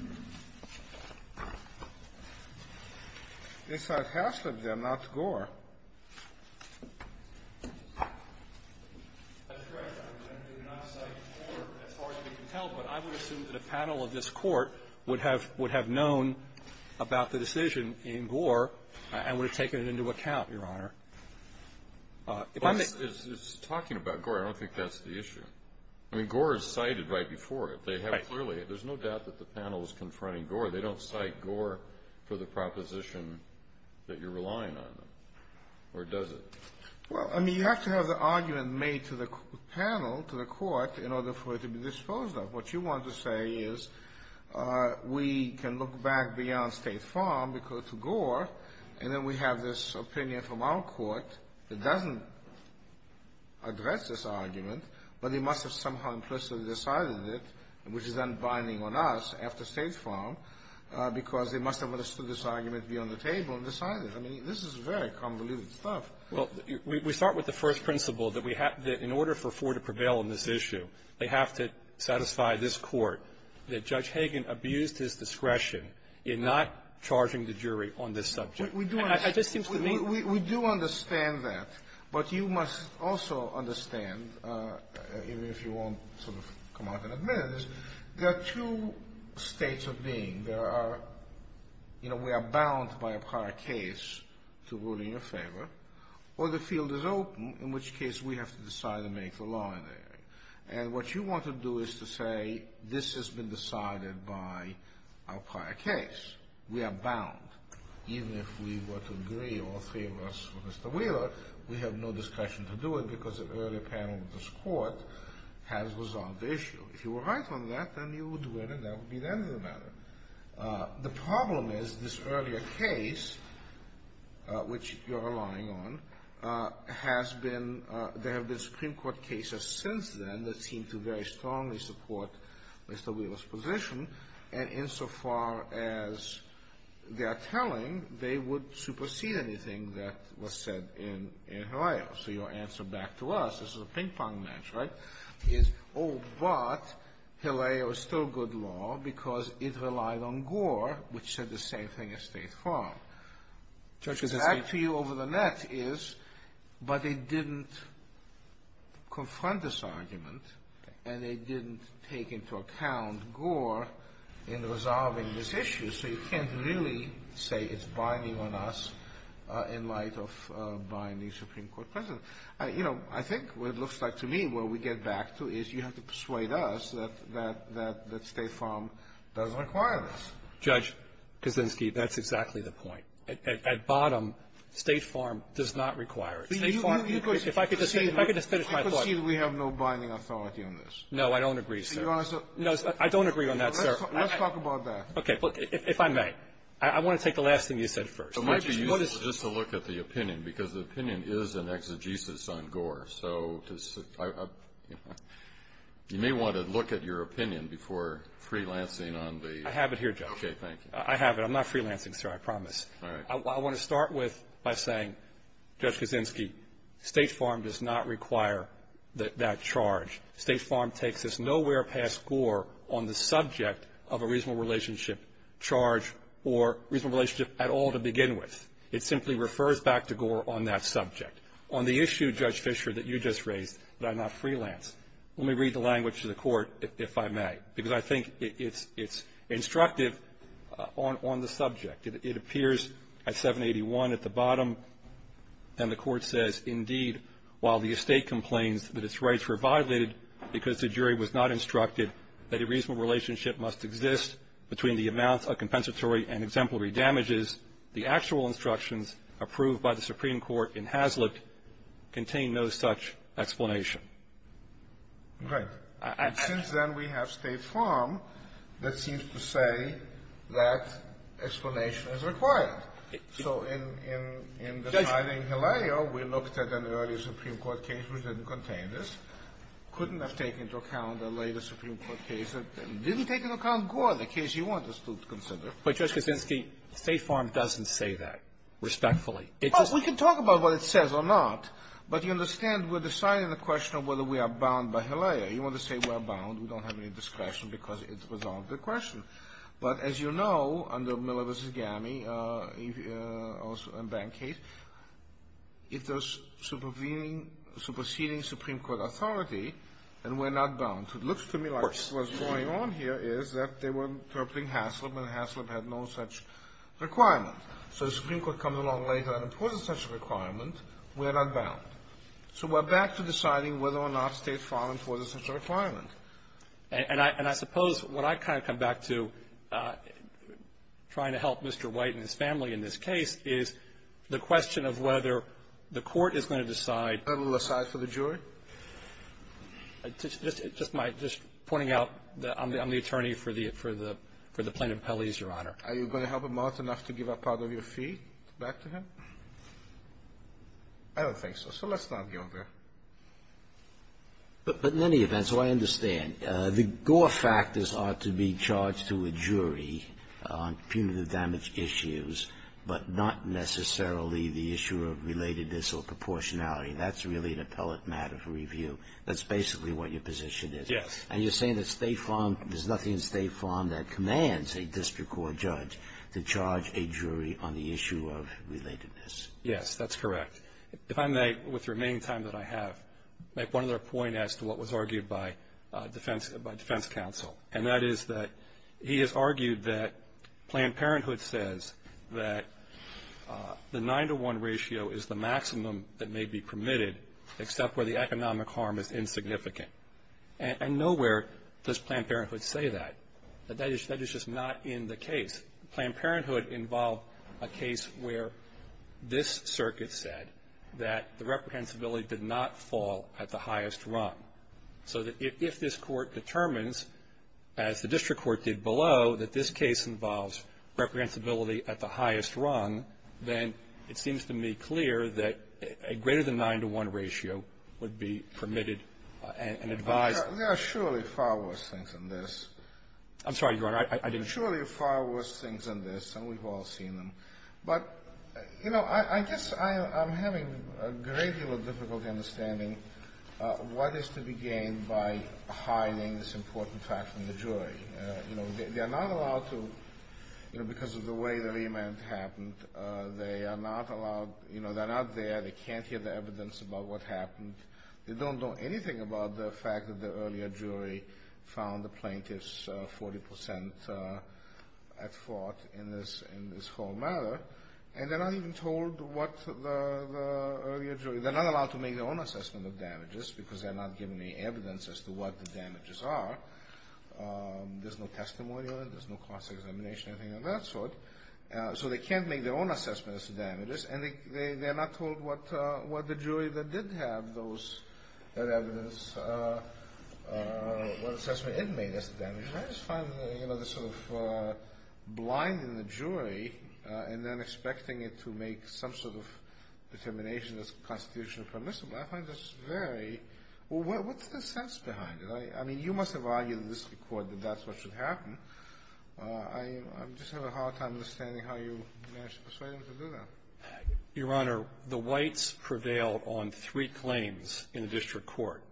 It says half of them, not Gore. That's correct. As far as we can tell. But I would assume that a panel of this court would have known about the decision in Gore and would have taken it into account, Your Honor. It's talking about Gore. I don't think that's the issue. I mean, Gore is cited right before it. There's no doubt that the panel is confronting Gore. They don't cite Gore for the proposition that you're relying on them, or does it? Well, I mean, you have to have the argument made to the panel, to the court, in order for it to be disposed of. What you want to say is we can look back beyond State Farm because it's Gore, and then we have this opinion from our court that doesn't address this argument, but they must have somehow implicitly decided it, which is then binding on us after State Farm, because they must have understood this argument to be on the table and decided it. I mean, this is very convoluted stuff. Well, we start with the first principle that in order for Ford to prevail on this issue, they have to satisfy this court that Judge Hagan abused his discretion in not charging the jury on this subject. We do understand that, but you must also understand, even if you won't sort of come out and admit it, there are two states of being. There are, you know, we are bound by a prior case to ruling a favor, or the field is open, in which case we have to decide and make the law in there. And what you want to do is to say this has been decided by our prior case. We are bound. Even if we were to agree or favor us with Mr. Wheeler, we have no discretion to do it because the earlier panel of this court has resolved the issue. If you were right on that, then you would win, and that would be the end of the matter. The problem is this earlier case, which you are relying on, has been, there have been Supreme Court cases since then that seem to very strongly support Mr. Wheeler's position, and insofar as they are telling, they would supersede anything that was said in Haleo. So your answer back to us, this is a ping-pong match, right, is, oh, but Haleo is still good law because it relied on Gore, which said the same thing as State Farm. So that feel over the net is, but they didn't confront this argument, and they didn't take into account Gore in resolving this issue, so you can't really say it's binding on us in light of buying the Supreme Court president. You know, I think what it looks like to me, what we get back to, is you have to persuade us that State Farm doesn't require this. Judge Kaczynski, that's exactly the point. At bottom, State Farm does not require it. If I could just finish my thought. We have no binding authority on this. No, I don't agree, sir. No, I don't agree on that, sir. Let's talk about that. Okay, if I may, I want to take the last thing you said first. It might be useful just to look at the opinion because the opinion is an exegesis on Gore, so you may want to look at your opinion before freelancing on the – I have it here, Judge. Okay, thank you. I have it. I'm not freelancing, sir, I promise. All right. I want to start with by saying, Judge Kaczynski, State Farm does not require that charge. State Farm takes us nowhere past Gore on the subject of a reasonable relationship charge or reasonable relationship at all to begin with. It simply refers back to Gore on that subject. On the issue, Judge Fischer, that you just raised, that I'm not freelancing, let me read the language to the court, if I may, because I think it's instructed on the subject. It appears at 781 at the bottom, and the court says, indeed, while the estate complains that its rights were violated because the jury was not instructed that a reasonable relationship must exist between the amount of compensatory and exemplary damages, the actual instructions approved by the Supreme Court in Hazlitt contain no such explanation. Right. Since then, we have State Farm that seems to say that explanation is required. So in the trial in Hillel, we looked at an earlier Supreme Court case couldn't have taken into account the later Supreme Court case. It didn't take into account Gore, the case you want to consider. But, Judge Kaczynski, State Farm doesn't say that respectfully. We can talk about what it says or not, but you understand we're deciding the question of whether we are bound by Hillel. You want to say we're bound, we don't have any discretion because it's resolved the question. But, as you know, under Miller v. Gammey, also in that case, if there's superseding Supreme Court authority, then we're not bound. It looks to me like what's going on here is that they were interpreting Hazlitt, and Hazlitt had no such requirement. So the Supreme Court comes along later and imposes such a requirement, we're not bound. So we're back to deciding whether or not State Farm imposes such a requirement. And I suppose what I kind of come back to trying to help Mr. White and his family in this case is the question of whether the court is going to decide. A little aside for the jury? Just pointing out that I'm the attorney for the plaintiff, Pelley, Your Honor. Are you going to help him out enough to give up part of your fee back to him? I don't think so, so let's not go there. But in any event, so I understand. The Gore factors ought to be charged to a jury on punitive damage issues, but not necessarily the issue of relatedness or proportionality. That's really an appellate matter for review. That's basically what your position is. Yes. And you're saying that State Farm, there's nothing in State Farm that commands a district court judge to charge a jury on the issue of relatedness. Yes, that's correct. If I may, with the remaining time that I have, make one other point as to what was argued by defense counsel, and that is that he has argued that Planned Parenthood says that the nine-to-one ratio is the maximum that may be permitted except where the economic harm is insignificant. And nowhere does Planned Parenthood say that. That is just not in the case. Planned Parenthood involved a case where this circuit said that the reprehensibility did not fall at the highest rung. So if this court determines, as the district court did below, that this case involves reprehensibility at the highest rung, then it seems to me clear that a greater than nine-to-one ratio would be permitted and advised. There are surely far worse things than this. I'm sorry, Your Honor. I didn't mean that. There are surely far worse things than this, and we've all seen them. But, you know, I guess I'm having a great deal of difficulty understanding what is to be gained by hiding this important fact from the jury. You know, they're not allowed to, because of the way the remand happened, they are not allowed, you know, they're not there, they can't hear the evidence about what happened. They don't know anything about the fact that the earlier jury found the plaintiffs 40% at fault in this whole matter. And they're not even told what the earlier jury, they're not allowed to make their own assessment of damages, because they're not given any evidence as to what the damages are. There's no testimony on it, there's no cross-examination, anything of that sort. So they can't make their own assessments of damages, and they're not told what the jury that did have that evidence, what assessment it made as to damages. I just find that, you know, this sort of blinding the jury, and then expecting it to make some sort of dissemination of this Constitution permissible, I find this very, well, what's the sense behind it? I mean, you must have argued in this court that that's what should happen. I'm just having a hard time understanding how you managed to persuade them to do that. Your Honor, the whites prevailed on three claims in the district court.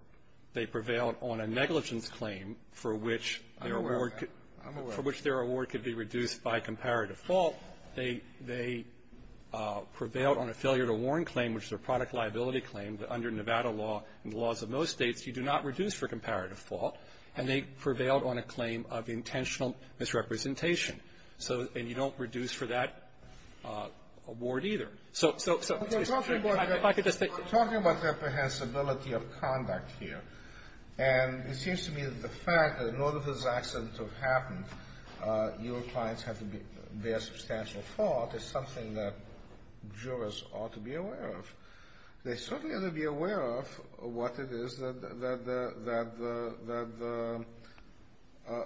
They prevailed on a negligence claim for which their award could be reduced by comparative fault. They prevailed on a failure to warn claim, which is a product liability claim, that under Nevada law and the laws of most states, you do not reduce for comparative fault. And they prevailed on a claim of intentional misrepresentation. And you don't reduce for that award either. So if I could just say... We're talking about the apprehensibility of conduct here. And it seems to me that the fact that in order for this accident to have happened, your clients have to bear substantial fault is something that jurors ought to be aware of. They certainly ought to be aware of what it is that the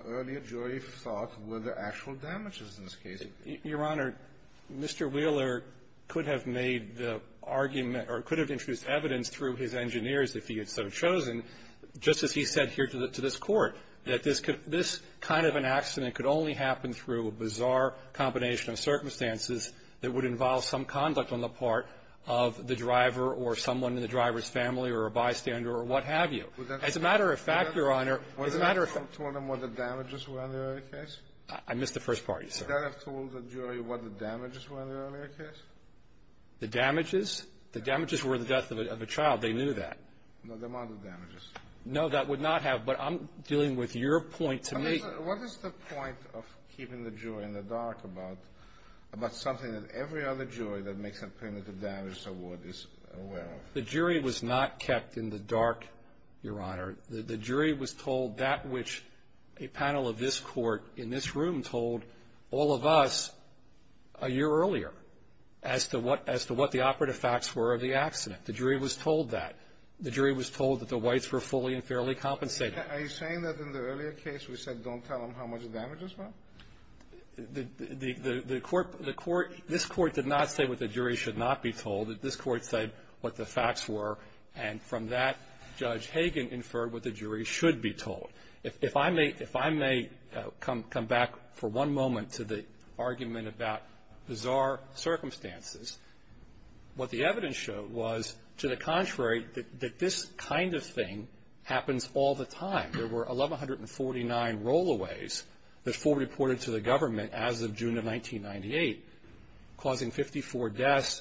earlier jury thought were the actual damages in this case. Your Honor, Mr. Wheeler could have made the argument or could have introduced evidence through his engineers if he had been chosen, just as he said here to this court, that this kind of an accident could only happen through a bizarre combination of circumstances that would involve some conduct on the part of the driver or someone in the driver's family or a bystander or what have you. As a matter of fact, Your Honor... Would that have told them what the damages were in the earlier case? I missed the first part. Would that have told the jury what the damages were in the earlier case? The damages? The damages were the death of a child. They knew that. No, they're not the damages. No, that would not have. But I'm dealing with your point to me. What is the point of keeping the jury in the dark about something that every other jury that may complain that the damage is aware of? The jury was not kept in the dark, Your Honor. The jury was told that which a panel of this court in this room told all of us a year earlier as to what the operative facts were of the accident. The jury was told that. The jury was told that the whites were fully and fairly compensated. Are you saying that in the earlier case we said don't tell them how much the damages were? This court did not say what the jury should not be told. This court said what the facts were, and from that, Judge Hagan inferred what the jury should be told. If I may come back for one moment to the argument about bizarre circumstances, what the evidence showed was, to the contrary, that this kind of thing happens all the time. There were 1,149 rollaways before reported to the government as of June of 1998, causing 54 deaths,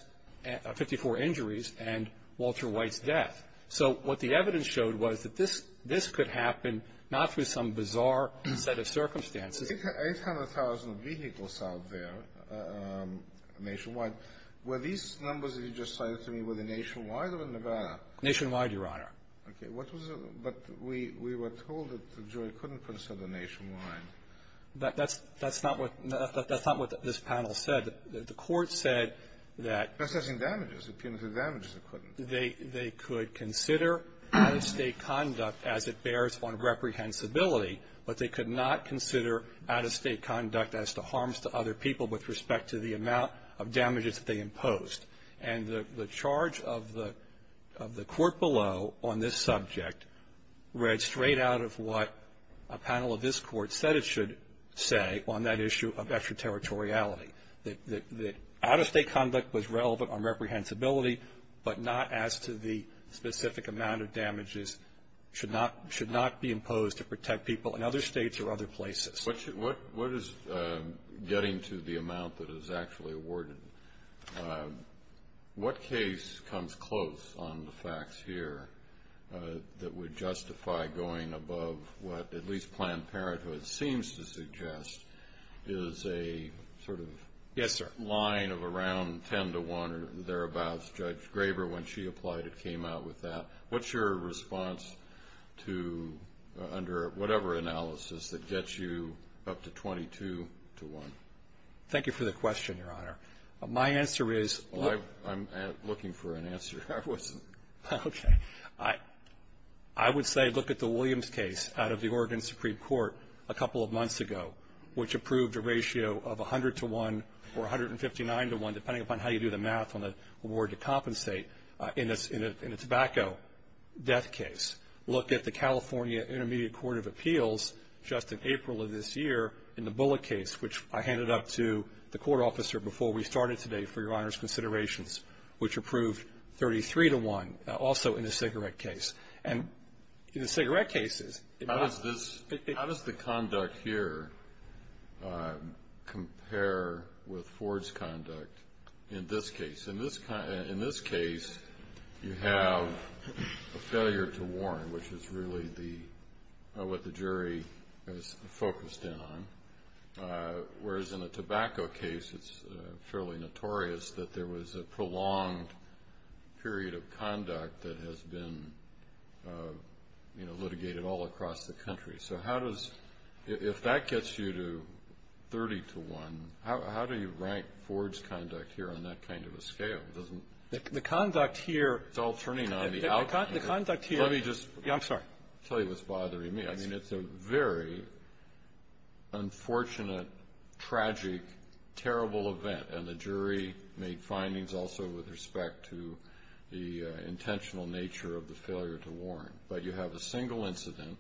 54 injuries, and Walter White death. So what the evidence showed was that this could happen not through some bizarre set of circumstances. 800,000 vehicles out there nationwide. Were these numbers that you just cited to me, were they nationwide or in Nevada? Nationwide, Your Honor. Okay. But we were told that the jury couldn't consider nationwide. That's not what this panel said. The court said that they could consider out-of-state conduct as it bears on reprehensibility, but they could not consider out-of-state conduct as to harms to other people with respect to the amount of damages that they imposed. And the charge of the court below on this subject read straight out of what a panel of this court said it should say on that issue of extraterritoriality, that out-of-state conduct was relevant on reprehensibility, but not as to the specific amount of damages should not be imposed to protect people in other states or other places. What is getting to the amount that is actually awarded? What case comes close on the facts here that would justify going above what at least Planned Parenthood seems to suggest is a sort of line of around 10 to 1 or thereabouts? Judge Graber, when she applied, it came out with that. What's your response to under whatever analysis that gets you up to 22 to 1? Thank you for the question, Your Honor. My answer is no. I'm looking for an answer. I wasn't. Okay. I would say look at the Williams case out of the Oregon Supreme Court a couple of months ago, which approved a ratio of 100 to 1 or 159 to 1, depending upon how you do the math on the award to compensate, in a tobacco death case. Look at the California Intermediate Court of Appeals just in April of this year in the Bullitt case, which I handed up to the court officer before we started today for Your Honor's considerations, which approved 33 to 1 also in the cigarette case. And in the cigarette cases, it does. How does the conduct here compare with Ford's conduct in this case? In this case, you have a failure to warn, which is really what the jury is focused in on, whereas in a tobacco case, it's fairly notorious that there was a prolonged period of conduct that has been litigated all across the country. So how does – if that gets you to 30 to 1, how do you rank Ford's conduct here on that kind of a scale? The conduct here – It's all turning on me. The conduct here – Let me just – I'm sorry. I'll tell you what's bothering me. I mean, it's a very unfortunate, tragic, terrible event, and the jury made findings also with respect to the intentional nature of the failure to warn. But you have a single incident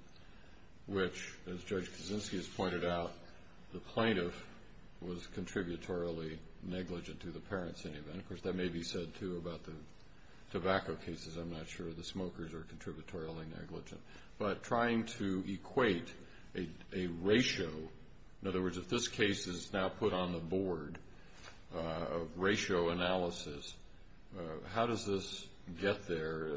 which, as Judge Kuczynski has pointed out, the plaintiff was contributorily negligent to the parents' name. And, of course, that may be said, too, about the tobacco cases. I'm not sure the smokers are contributorily negligent. But trying to equate a ratio – in other words, if this case is now put on the board of ratio analysis, how does this get there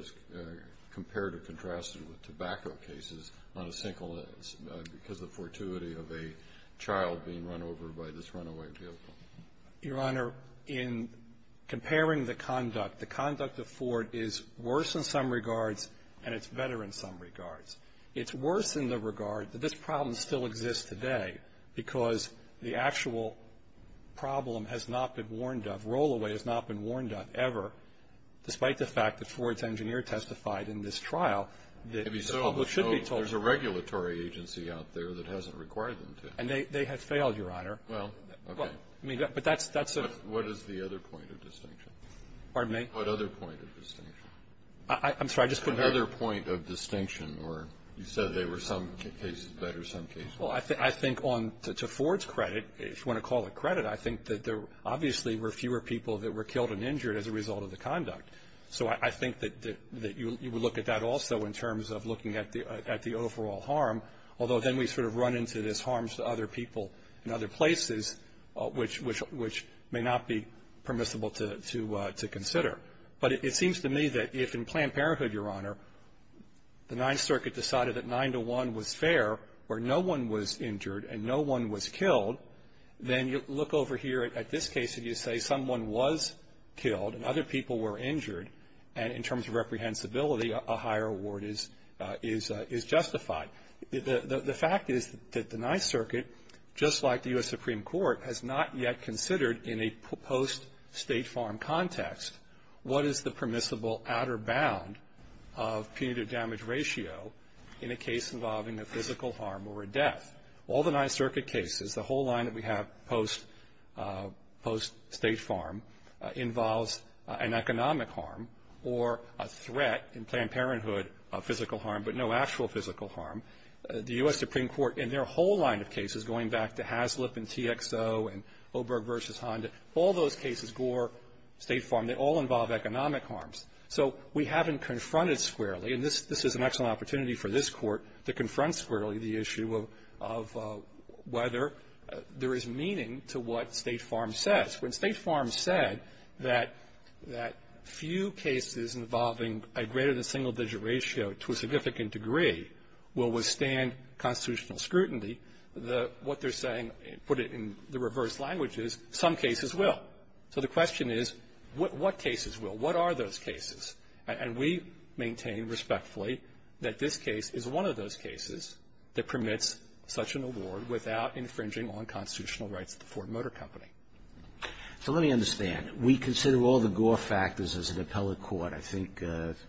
compared or contrasted with tobacco cases on a single – because of the fortuity of a child being run over by this runaway vehicle? Your Honor, in comparing the conduct, the conduct of Ford is worse in some regards and it's better in some regards. It's worse in the regard that this problem still exists today because the actual problem has not been warned of. Rollaway has not been warned of ever, despite the fact that Ford's engineer testified in this trial that – There's a regulatory agency out there that hasn't required them to. And they have failed, Your Honor. Well, okay. But that's a – What is the other point of distinction? Pardon me? What other point of distinction? I'm sorry, just go ahead. What other point of distinction? You said there were some cases better, some cases worse. Well, I think on – to Ford's credit, if you want to call it credit, I think that there obviously were fewer people that were killed and injured as a result of the conduct. So I think that you would look at that also in terms of looking at the overall harm, although then we sort of run into this harms to other people in other places, which may not be permissible to consider. But it seems to me that if in Planned Parenthood, Your Honor, the Ninth Circuit decided that nine to one was fair, where no one was injured and no one was killed, then you look over here at this case and you say someone was killed and other people were injured, and in terms of reprehensibility a higher award is justified. The fact is that the Ninth Circuit, just like the U.S. Supreme Court, has not yet considered in a post-state farm context what is the permissible outer bound of punitive damage ratio in a case involving a physical harm or a death. All the Ninth Circuit cases, the whole line that we have post-state farm, involves an economic harm or a threat in Planned Parenthood, but no actual physical harm. The U.S. Supreme Court in their whole line of cases, going back to Haslip and TXO and Oberg versus Honda, all those cases, Gore, state farm, they all involve economic harms. So we haven't confronted squarely, and this is an excellent opportunity for this court to confront squarely the issue of whether there is meaning to what state farm says. When state farms said that few cases involving a greater than single digit ratio to a significant degree will withstand constitutional scrutiny, what they're saying, put it in the reverse language, is some cases will. So the question is, what cases will? What are those cases? And we maintain respectfully that this case is one of those cases that permits such an award without infringing on constitutional rights for a motor company. So let me understand. We consider all the Gore factors as an appellate court. I think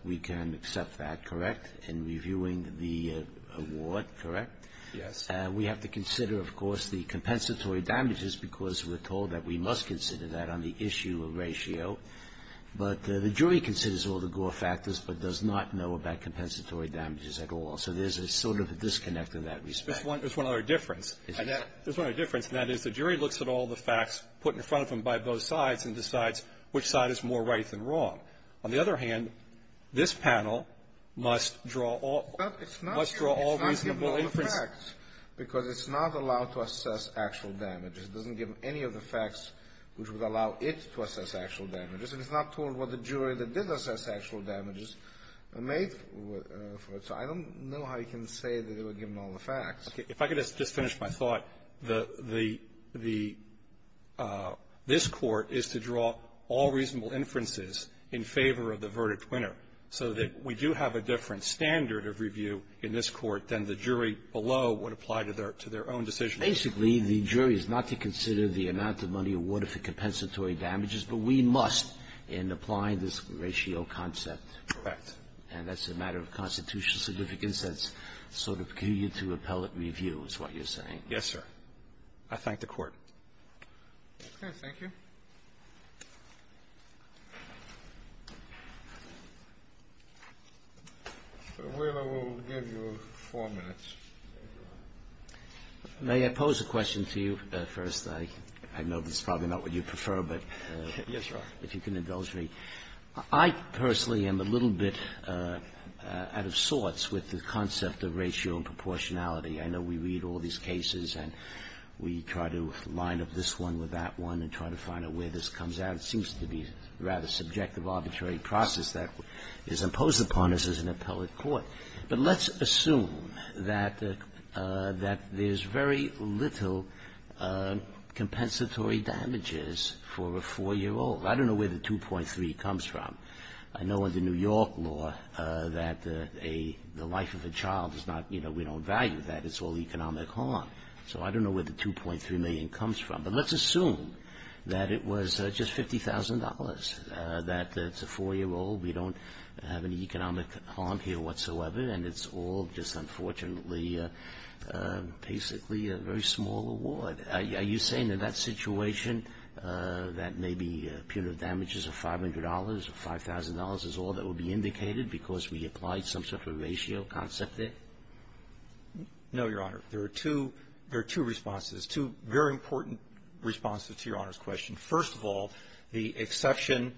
we can accept that, correct, in reviewing the award, correct? Yes. And we have to consider, of course, the compensatory damages because we're told that we must consider that on the issue of ratio. But the jury considers all the Gore factors but does not know about compensatory damages at all. So there's a sort of disconnect in that respect. There's one other difference. There's one other difference, and that is the jury looks at all the facts put in front of them by both sides and decides which side is more right than wrong. On the other hand, this panel must draw all reasonable inference. But it's not given all the facts because it's not allowed to assess actual damages. It doesn't give any of the facts which would allow it to assess actual damages. And it's not told what the jury that did assess actual damages made. So I don't know how you can say that it was given all the facts. If I could just finish my thought, this court is to draw all reasonable inferences in favor of the verdict winner so that we do have a different standard of review in this court than the jury below would apply to their own decision. Basically, the jury is not to consider the amount of money awarded for compensatory damages, but we must in applying this ratio concept. Correct. And that's a matter of constitutional significance. In a sense, sort of give you to appellate review is what you're saying. Yes, sir. I thank the court. Okay, thank you. We will give you four minutes. May I pose a question to you first? I know it's probably not what you prefer, but if you can indulge me. I personally am a little bit out of sorts with the concept of ratio and proportionality. I know we read all these cases and we try to line up this one with that one and try to find out where this comes out. It seems to be a rather subjective, arbitrary process that is imposed upon us as an appellate court. But let's assume that there's very little compensatory damages for a four-year-old. I don't know where the 2.3 comes from. I know in the New York law that the life of a child is not, you know, we don't value that. It's all economic harm. So I don't know where the 2.3 million comes from. But let's assume that it was just $50,000, that it's a four-year-old, we don't have any economic harm here whatsoever, and it's all just unfortunately basically a very small award. Are you saying in that situation that maybe punitive damages of $500 or $5,000 is all that would be indicated because we applied some sort of a ratio concept there? No, Your Honor. There are two responses, two very important responses to Your Honor's question. First of all, the exception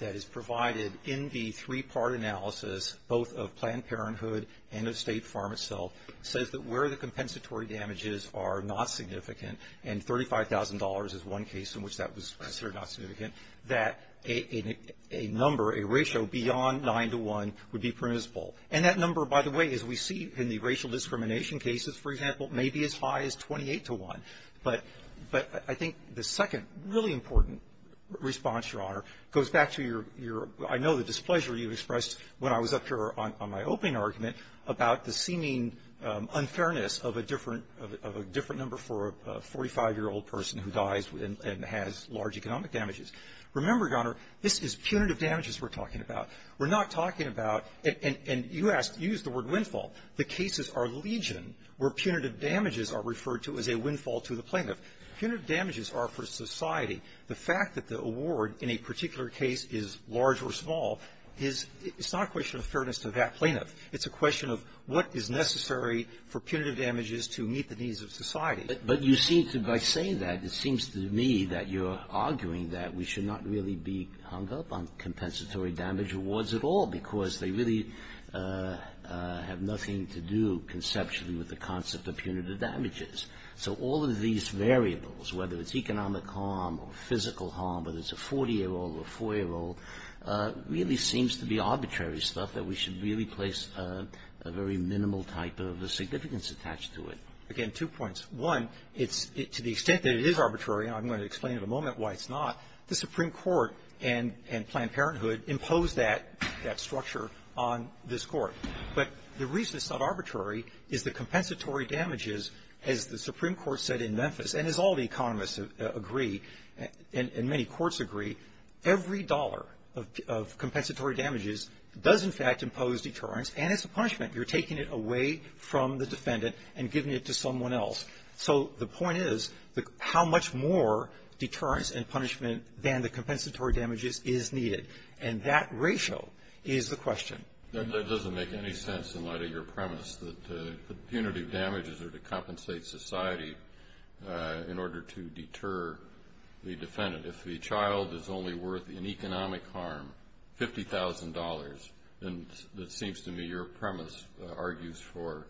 that is provided in the three-part analysis, both of Planned Parenthood and of State Farm itself, says that where the compensatory damages are not significant, and $35,000 is one case in which that was considered not significant, that a number, a ratio beyond 9 to 1 would be permissible. And that number, by the way, as we see in the racial discrimination cases, for example, may be as high as 28 to 1. But I think the second really important response, Your Honor, goes back to your ñ I know the displeasure you expressed when I was up here on my opening argument about the seeming unfairness of a different number for a 45-year-old person who dies and has large economic damages. Remember, Your Honor, this is punitive damages we're talking about. We're not talking about ñ and you used the word windfall. The cases are legion where punitive damages are referred to as a windfall to the plaintiff. Punitive damages are for society. The fact that the award in a particular case is large or small is not a question of fairness to that plaintiff. It's a question of what is necessary for punitive damages to meet the needs of society. But you seem to ñ by saying that, it seems to me that you're arguing that we should not really be hung up on compensatory damage awards at all because they really have nothing to do conceptually with the concept of punitive damages. So all of these variables, whether it's economic harm or physical harm, whether it's a 40-year-old or a 4-year-old, really seems to be arbitrary stuff that we should really place a very minimal type of a significance attached to it. Again, two points. One, to the extent that it is arbitrary, and I'm going to explain in a moment why it's not, the Supreme Court and Planned Parenthood impose that structure on this Court. But the reason it's not arbitrary is the compensatory damages, as the Supreme Court said in Memphis, and as all the economists agree, and many courts agree, every dollar of compensatory damages does, in fact, impose deterrence, and it's a punishment. You're taking it away from the defendant and giving it to someone else. So the point is how much more deterrence and punishment than the compensatory damages is needed. And that ratio is the question. It doesn't make any sense in light of your premise that punitive damages are to compensate society in order to deter the defendant. If the child is only worth an economic harm, $50,000, then it seems to me your premise argues for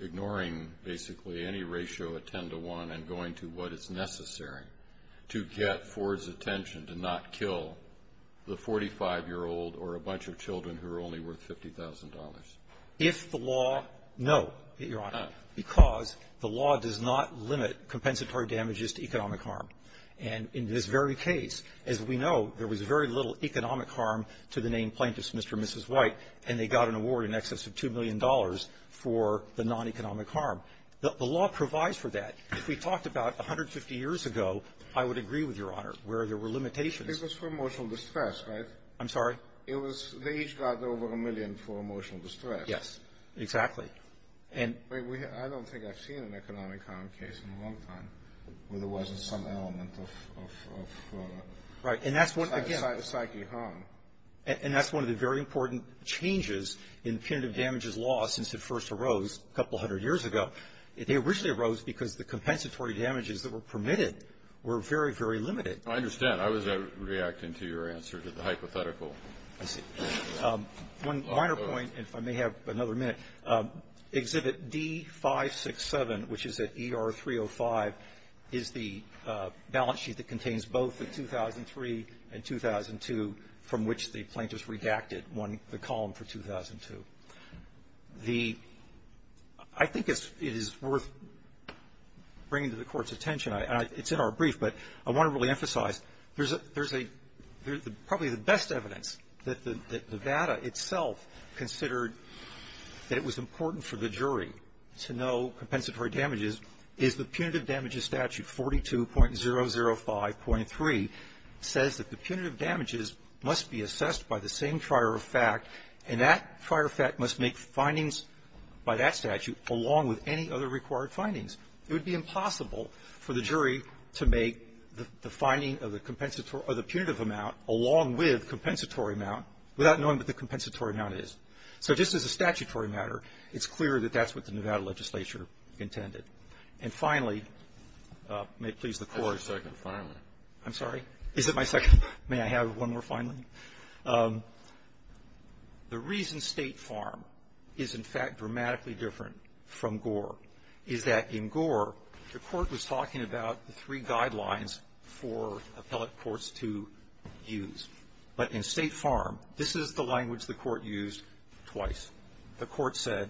ignoring basically any ratio of 10 to 1 and going to what is necessary to get Ford's attention to not kill the 45-year-old or a bunch of children who are only worth $50,000. If the law, no, Your Honor, because the law does not limit compensatory damages to economic harm. And in this very case, as we know, there was very little economic harm to the named plaintiff's Mr. and Mrs. White, and they got an award in excess of $2 million for the non-economic harm. The law provides for that. If we talked about 150 years ago, I would agree with Your Honor, where there were limitations. This was for emotional distress, right? I'm sorry? They each got over a million for emotional distress. Yes, exactly. I don't think I've seen an economic harm case in a long time where there wasn't some element of psychic harm. And that's one of the very important changes in punitive damages law since it first arose a couple hundred years ago. It originally arose because the compensatory damages that were permitted were very, very limited. I understand. I was reacting to your answer to the hypothetical. I see. One minor point, if I may have another minute. Exhibit D567, which is at ER 305, is the balance sheet that contains both the 2003 and 2002, from which the plaintiff's redacted the column for 2002. I think it is worth bringing to the Court's attention, and it's in our brief, but I want to really emphasize there's probably the best evidence that the VADA itself considered that it was important for the jury to know compensatory damages is the punitive damages statute, 42.005.3, says that the punitive damages must be assessed by the same trier of fact, and that trier of fact must make findings by that statute along with any other required findings. It would be impossible for the jury to make the finding of the punitive amount along with compensatory amount without knowing what the compensatory amount is. So just as a statutory matter, it's clear that that's what the Nevada legislature intended. And finally, may it please the Court. I have a second, finally. I'm sorry? Is it my second? May I have one more, finally? The reason State Farm is, in fact, dramatically different from Gore is that in Gore, the Court was talking about the three guidelines for appellate courts to use. But in State Farm, this is the language the Court used twice. The Court said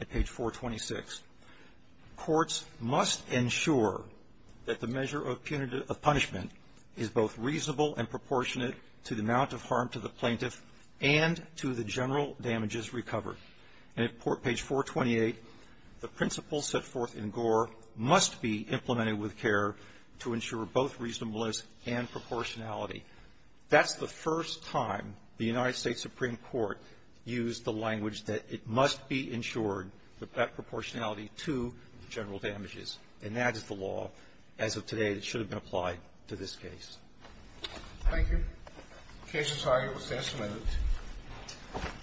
at page 426, Courts must ensure that the measure of punishment is both reasonable and proportionate to the amount of harm to the plaintiff and to the general damages recovered. And at page 428, the principles set forth in Gore must be implemented with care to ensure both reasonableness and proportionality. That's the first time the United States Supreme Court used the language that it must be ensured that proportionality to the general damages. And that is the law, as of today, that should have been applied to this case. Thank you. The case is now closed.